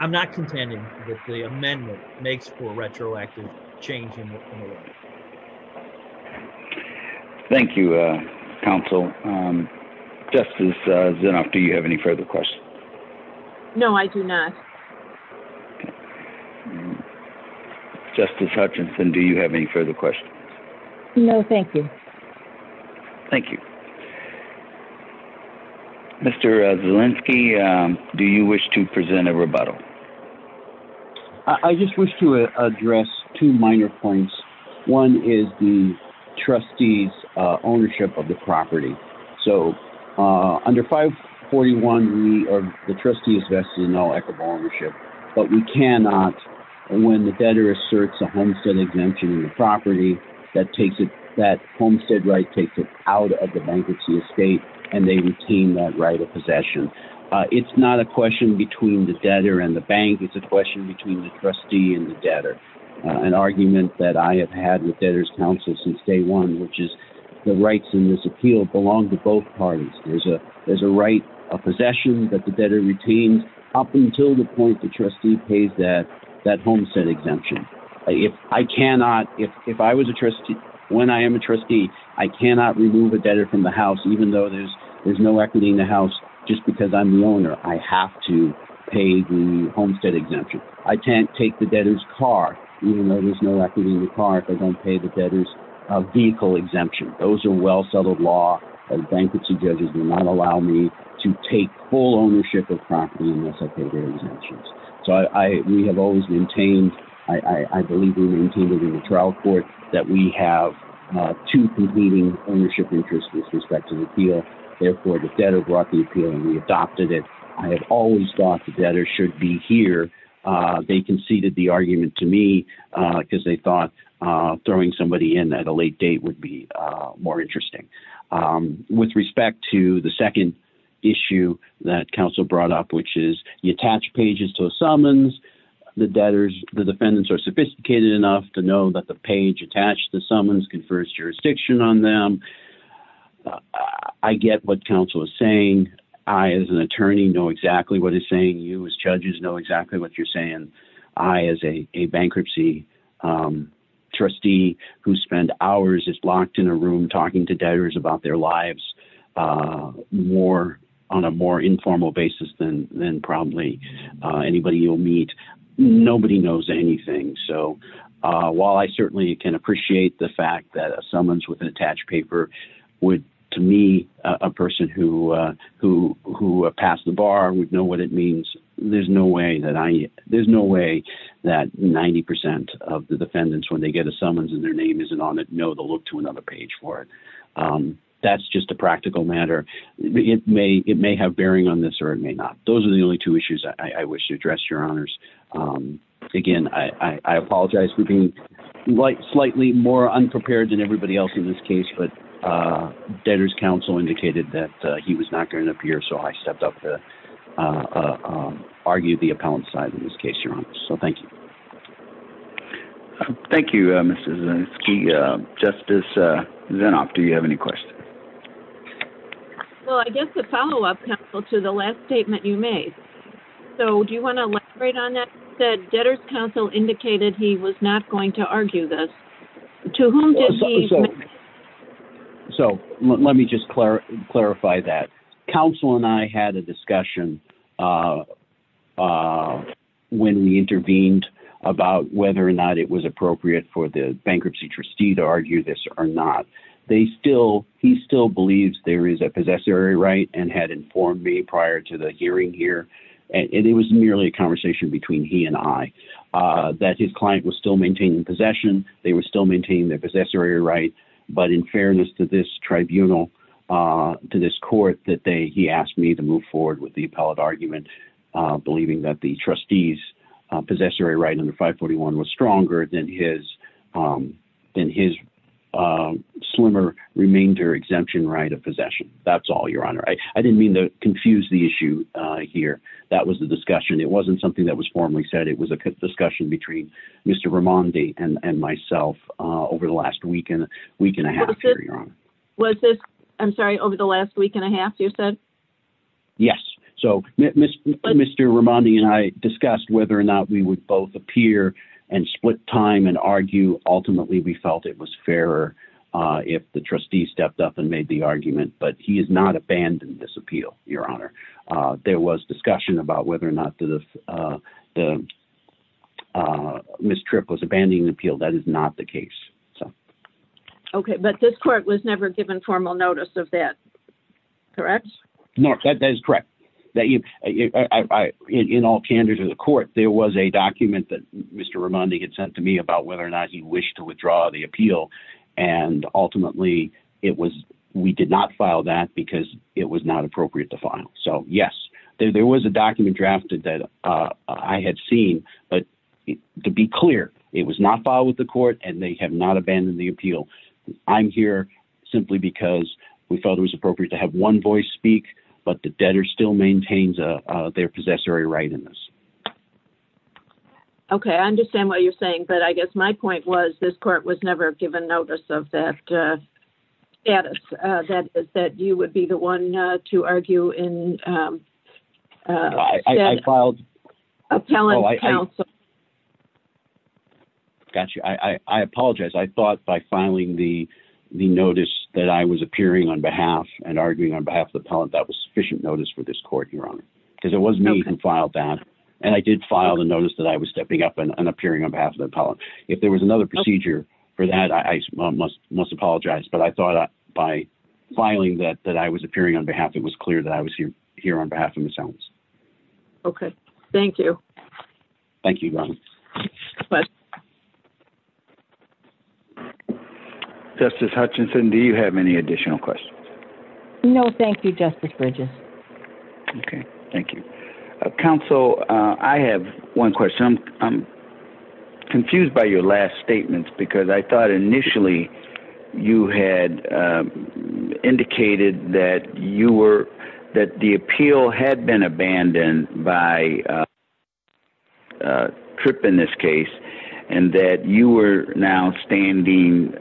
I'm not contending with the amendment makes for retroactive changing. Thank you, counsel. Just as soon after you have any further questions. No, I do not. Justice Hutchinson Do you have any further questions. No, thank you. Thank you. Mr Zelinsky. Do you wish to present a rebuttal. I just wish to address two minor points. One is the trustees ownership of the property. So, under 541 we are the trustee is vested in all equitable ownership, but we cannot. When the debtor asserts a homestead exemption property that takes it that homestead right takes it out of the bankruptcy estate, and they retain that right of possession. It's not a question between the debtor and the bank it's a question between the trustee and the debtor, an argument that I have had with debtors counsel since day one, which is the rights in this appeal belong to both parties, there's a, there's a right of possession that the debtor retains up until the point the trustee pays that that homestead exemption. If I cannot, if I was a trustee. When I am a trustee, I cannot remove a debtor from the house even though there's, there's no equity in the house, just because I'm the owner, I have to pay the homestead exemption. I can't take the debtors car, even though there's no equity in the car if I don't pay the debtors vehicle exemption, those are well settled law and bankruptcy judges do not allow me to take full ownership of property unless I pay their exemptions. So I, we have always maintained, I believe in the trial court that we have two competing ownership interests with respect to the appeal. Therefore, the debtor brought the appeal and we adopted it. I have always thought that there should be here. You as judges know exactly what you're saying. I as a bankruptcy trustee who spend hours is blocked in a room talking to debtors about their lives more on a more informal basis than, than probably anybody you'll meet. Nobody knows anything. So, while I certainly can appreciate the fact that a summons with an attached paper would, to me, a person who, who, who passed the bar would know what it means. There's no way that I, there's no way that 90% of the defendants when they get a summons and their name isn't on it know the look to another page for it. That's just a practical matter. It may, it may have bearing on this or it may not. Those are the only two issues I wish to address your honors. Again, I apologize for being like slightly more unprepared than everybody else in this case but debtors counsel indicated that he was not going to appear so I stepped up to argue the appellant side in this case, your honor. So thank you. Thank you. Justice. Do you have any questions. Well, I guess the follow up to the last statement you made. So do you want to write on that said debtors counsel indicated he was not going to argue this. So, let me just clarify that counsel and I had a discussion. When we intervened about whether or not it was appropriate for the bankruptcy trustee to argue this or not. They still, he still believes there is a possessory right and had informed me prior to the hearing here. And it was merely a conversation between he and I, that his client was still maintaining possession, they were still maintaining their possessory right, but in fairness to this tribunal to this court that they he asked me to move forward with the appellate argument, believing that the trustees possessory right under 541 was stronger than his than his slimmer remainder exemption right of possession. That's all your honor I didn't mean to confuse the issue here. That was the discussion it wasn't something that was formally said it was a discussion between Mr Ramani and myself over the last weekend, week and a half. Was this. I'm sorry, over the last week and a half, you said, yes. So, Mr. Mr Ramani and I discussed whether or not we would both appear and split time and argue, ultimately we felt it was fair. If the trustee stepped up and made the argument but he is not abandoned this appeal, your honor. There was discussion about whether or not to the mistress was abandoning the appeal that is not the case. Okay, but this court was never given formal notice of that. Correct. No, that is correct, that you in all candor to the court, there was a document that Mr Ramani had sent to me about whether or not you wish to withdraw the appeal. And ultimately, it was, we did not file that because it was not appropriate to file so yes there was a document drafted that I had seen, but to be clear, it was not filed with the court and they have not abandoned the appeal. I'm here, simply because we felt it was appropriate to have one voice speak, but the debtor still maintains their possessory right in this. Okay, I understand what you're saying but I guess my point was this court was never given notice of that. Yeah, that is that you would be the one to argue in filed. Got you I apologize I thought by filing the, the notice that I was appearing on behalf and arguing on behalf of the appellant that was sufficient notice for this court, your honor, because it wasn't even filed that. And I did file the notice that I was stepping up and appearing on behalf of the appellant. If there was another procedure for that I must must apologize but I thought by filing that that I was appearing on behalf it was clear that I was here, here on behalf of themselves. Okay, thank you. Thank you. Justice Hutchinson Do you have any additional questions. No, thank you, Justice Bridges. Okay, thank you, counsel, I have one question I'm confused by your last statements because I thought initially you had indicated that you were that the appeal had been abandoned by trip in this case, and that you were now standing.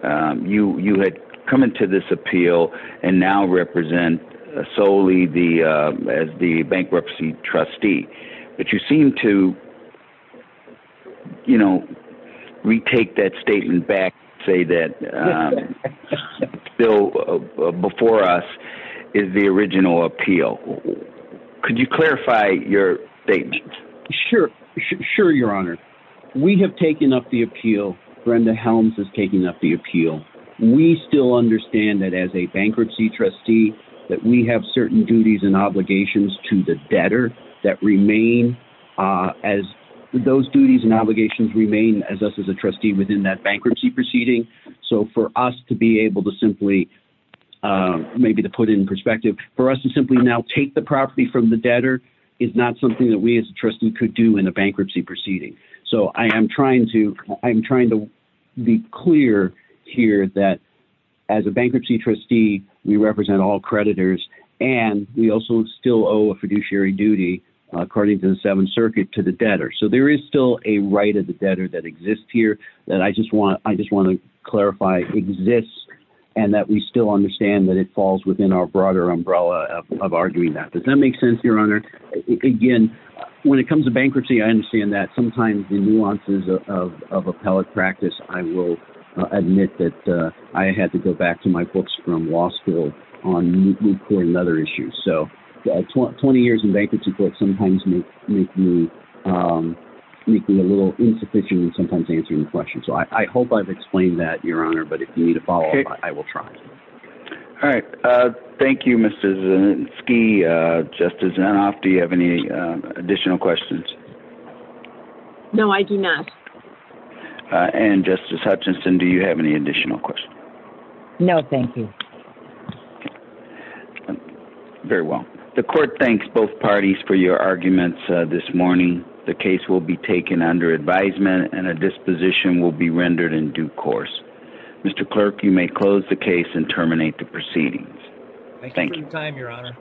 You, you had come into this appeal, and now represent solely the as the bankruptcy trustee, but you seem to, you know, retake that statement back, say that before us is the original appeal. Could you clarify your statement. Sure, sure, your honor. We have taken up the appeal Brenda Helms is taking up the appeal. We still understand that as a bankruptcy trustee that we have certain duties and obligations to the debtor that remain as those duties and obligations remain as us as a trustee within that bankruptcy proceeding. So for us to be able to simply maybe to put in perspective for us to simply now take the property from the debtor is not something that we as a trustee could do in a bankruptcy proceeding. So I am trying to, I'm trying to be clear here that as a bankruptcy trustee, we represent all creditors, and we also still owe a fiduciary duty. According to the Seventh Circuit to the debtor so there is still a right of the debtor that exists here that I just want, I just want to clarify exists, and that we still understand that it falls within our broader umbrella of arguing that does that make sense your honor. Again, when it comes to bankruptcy I understand that sometimes the nuances of appellate practice, I will admit that I had to go back to my books from law school on new court and other issues so 20 years in bankruptcy court sometimes make me make me a little insufficient and sometimes answering the question so I hope I've explained that your honor but if you need to follow up, I will try. All right. Thank you, Mr. ski justice and off do you have any additional questions. No, I do not. And Justice Hutchinson Do you have any additional questions. No, thank you. Very well. The court thanks both parties for your arguments this morning, the case will be taken under advisement and a disposition will be rendered in due course. Mr. clerk you may close the case and terminate the proceedings. Thank you time your honor.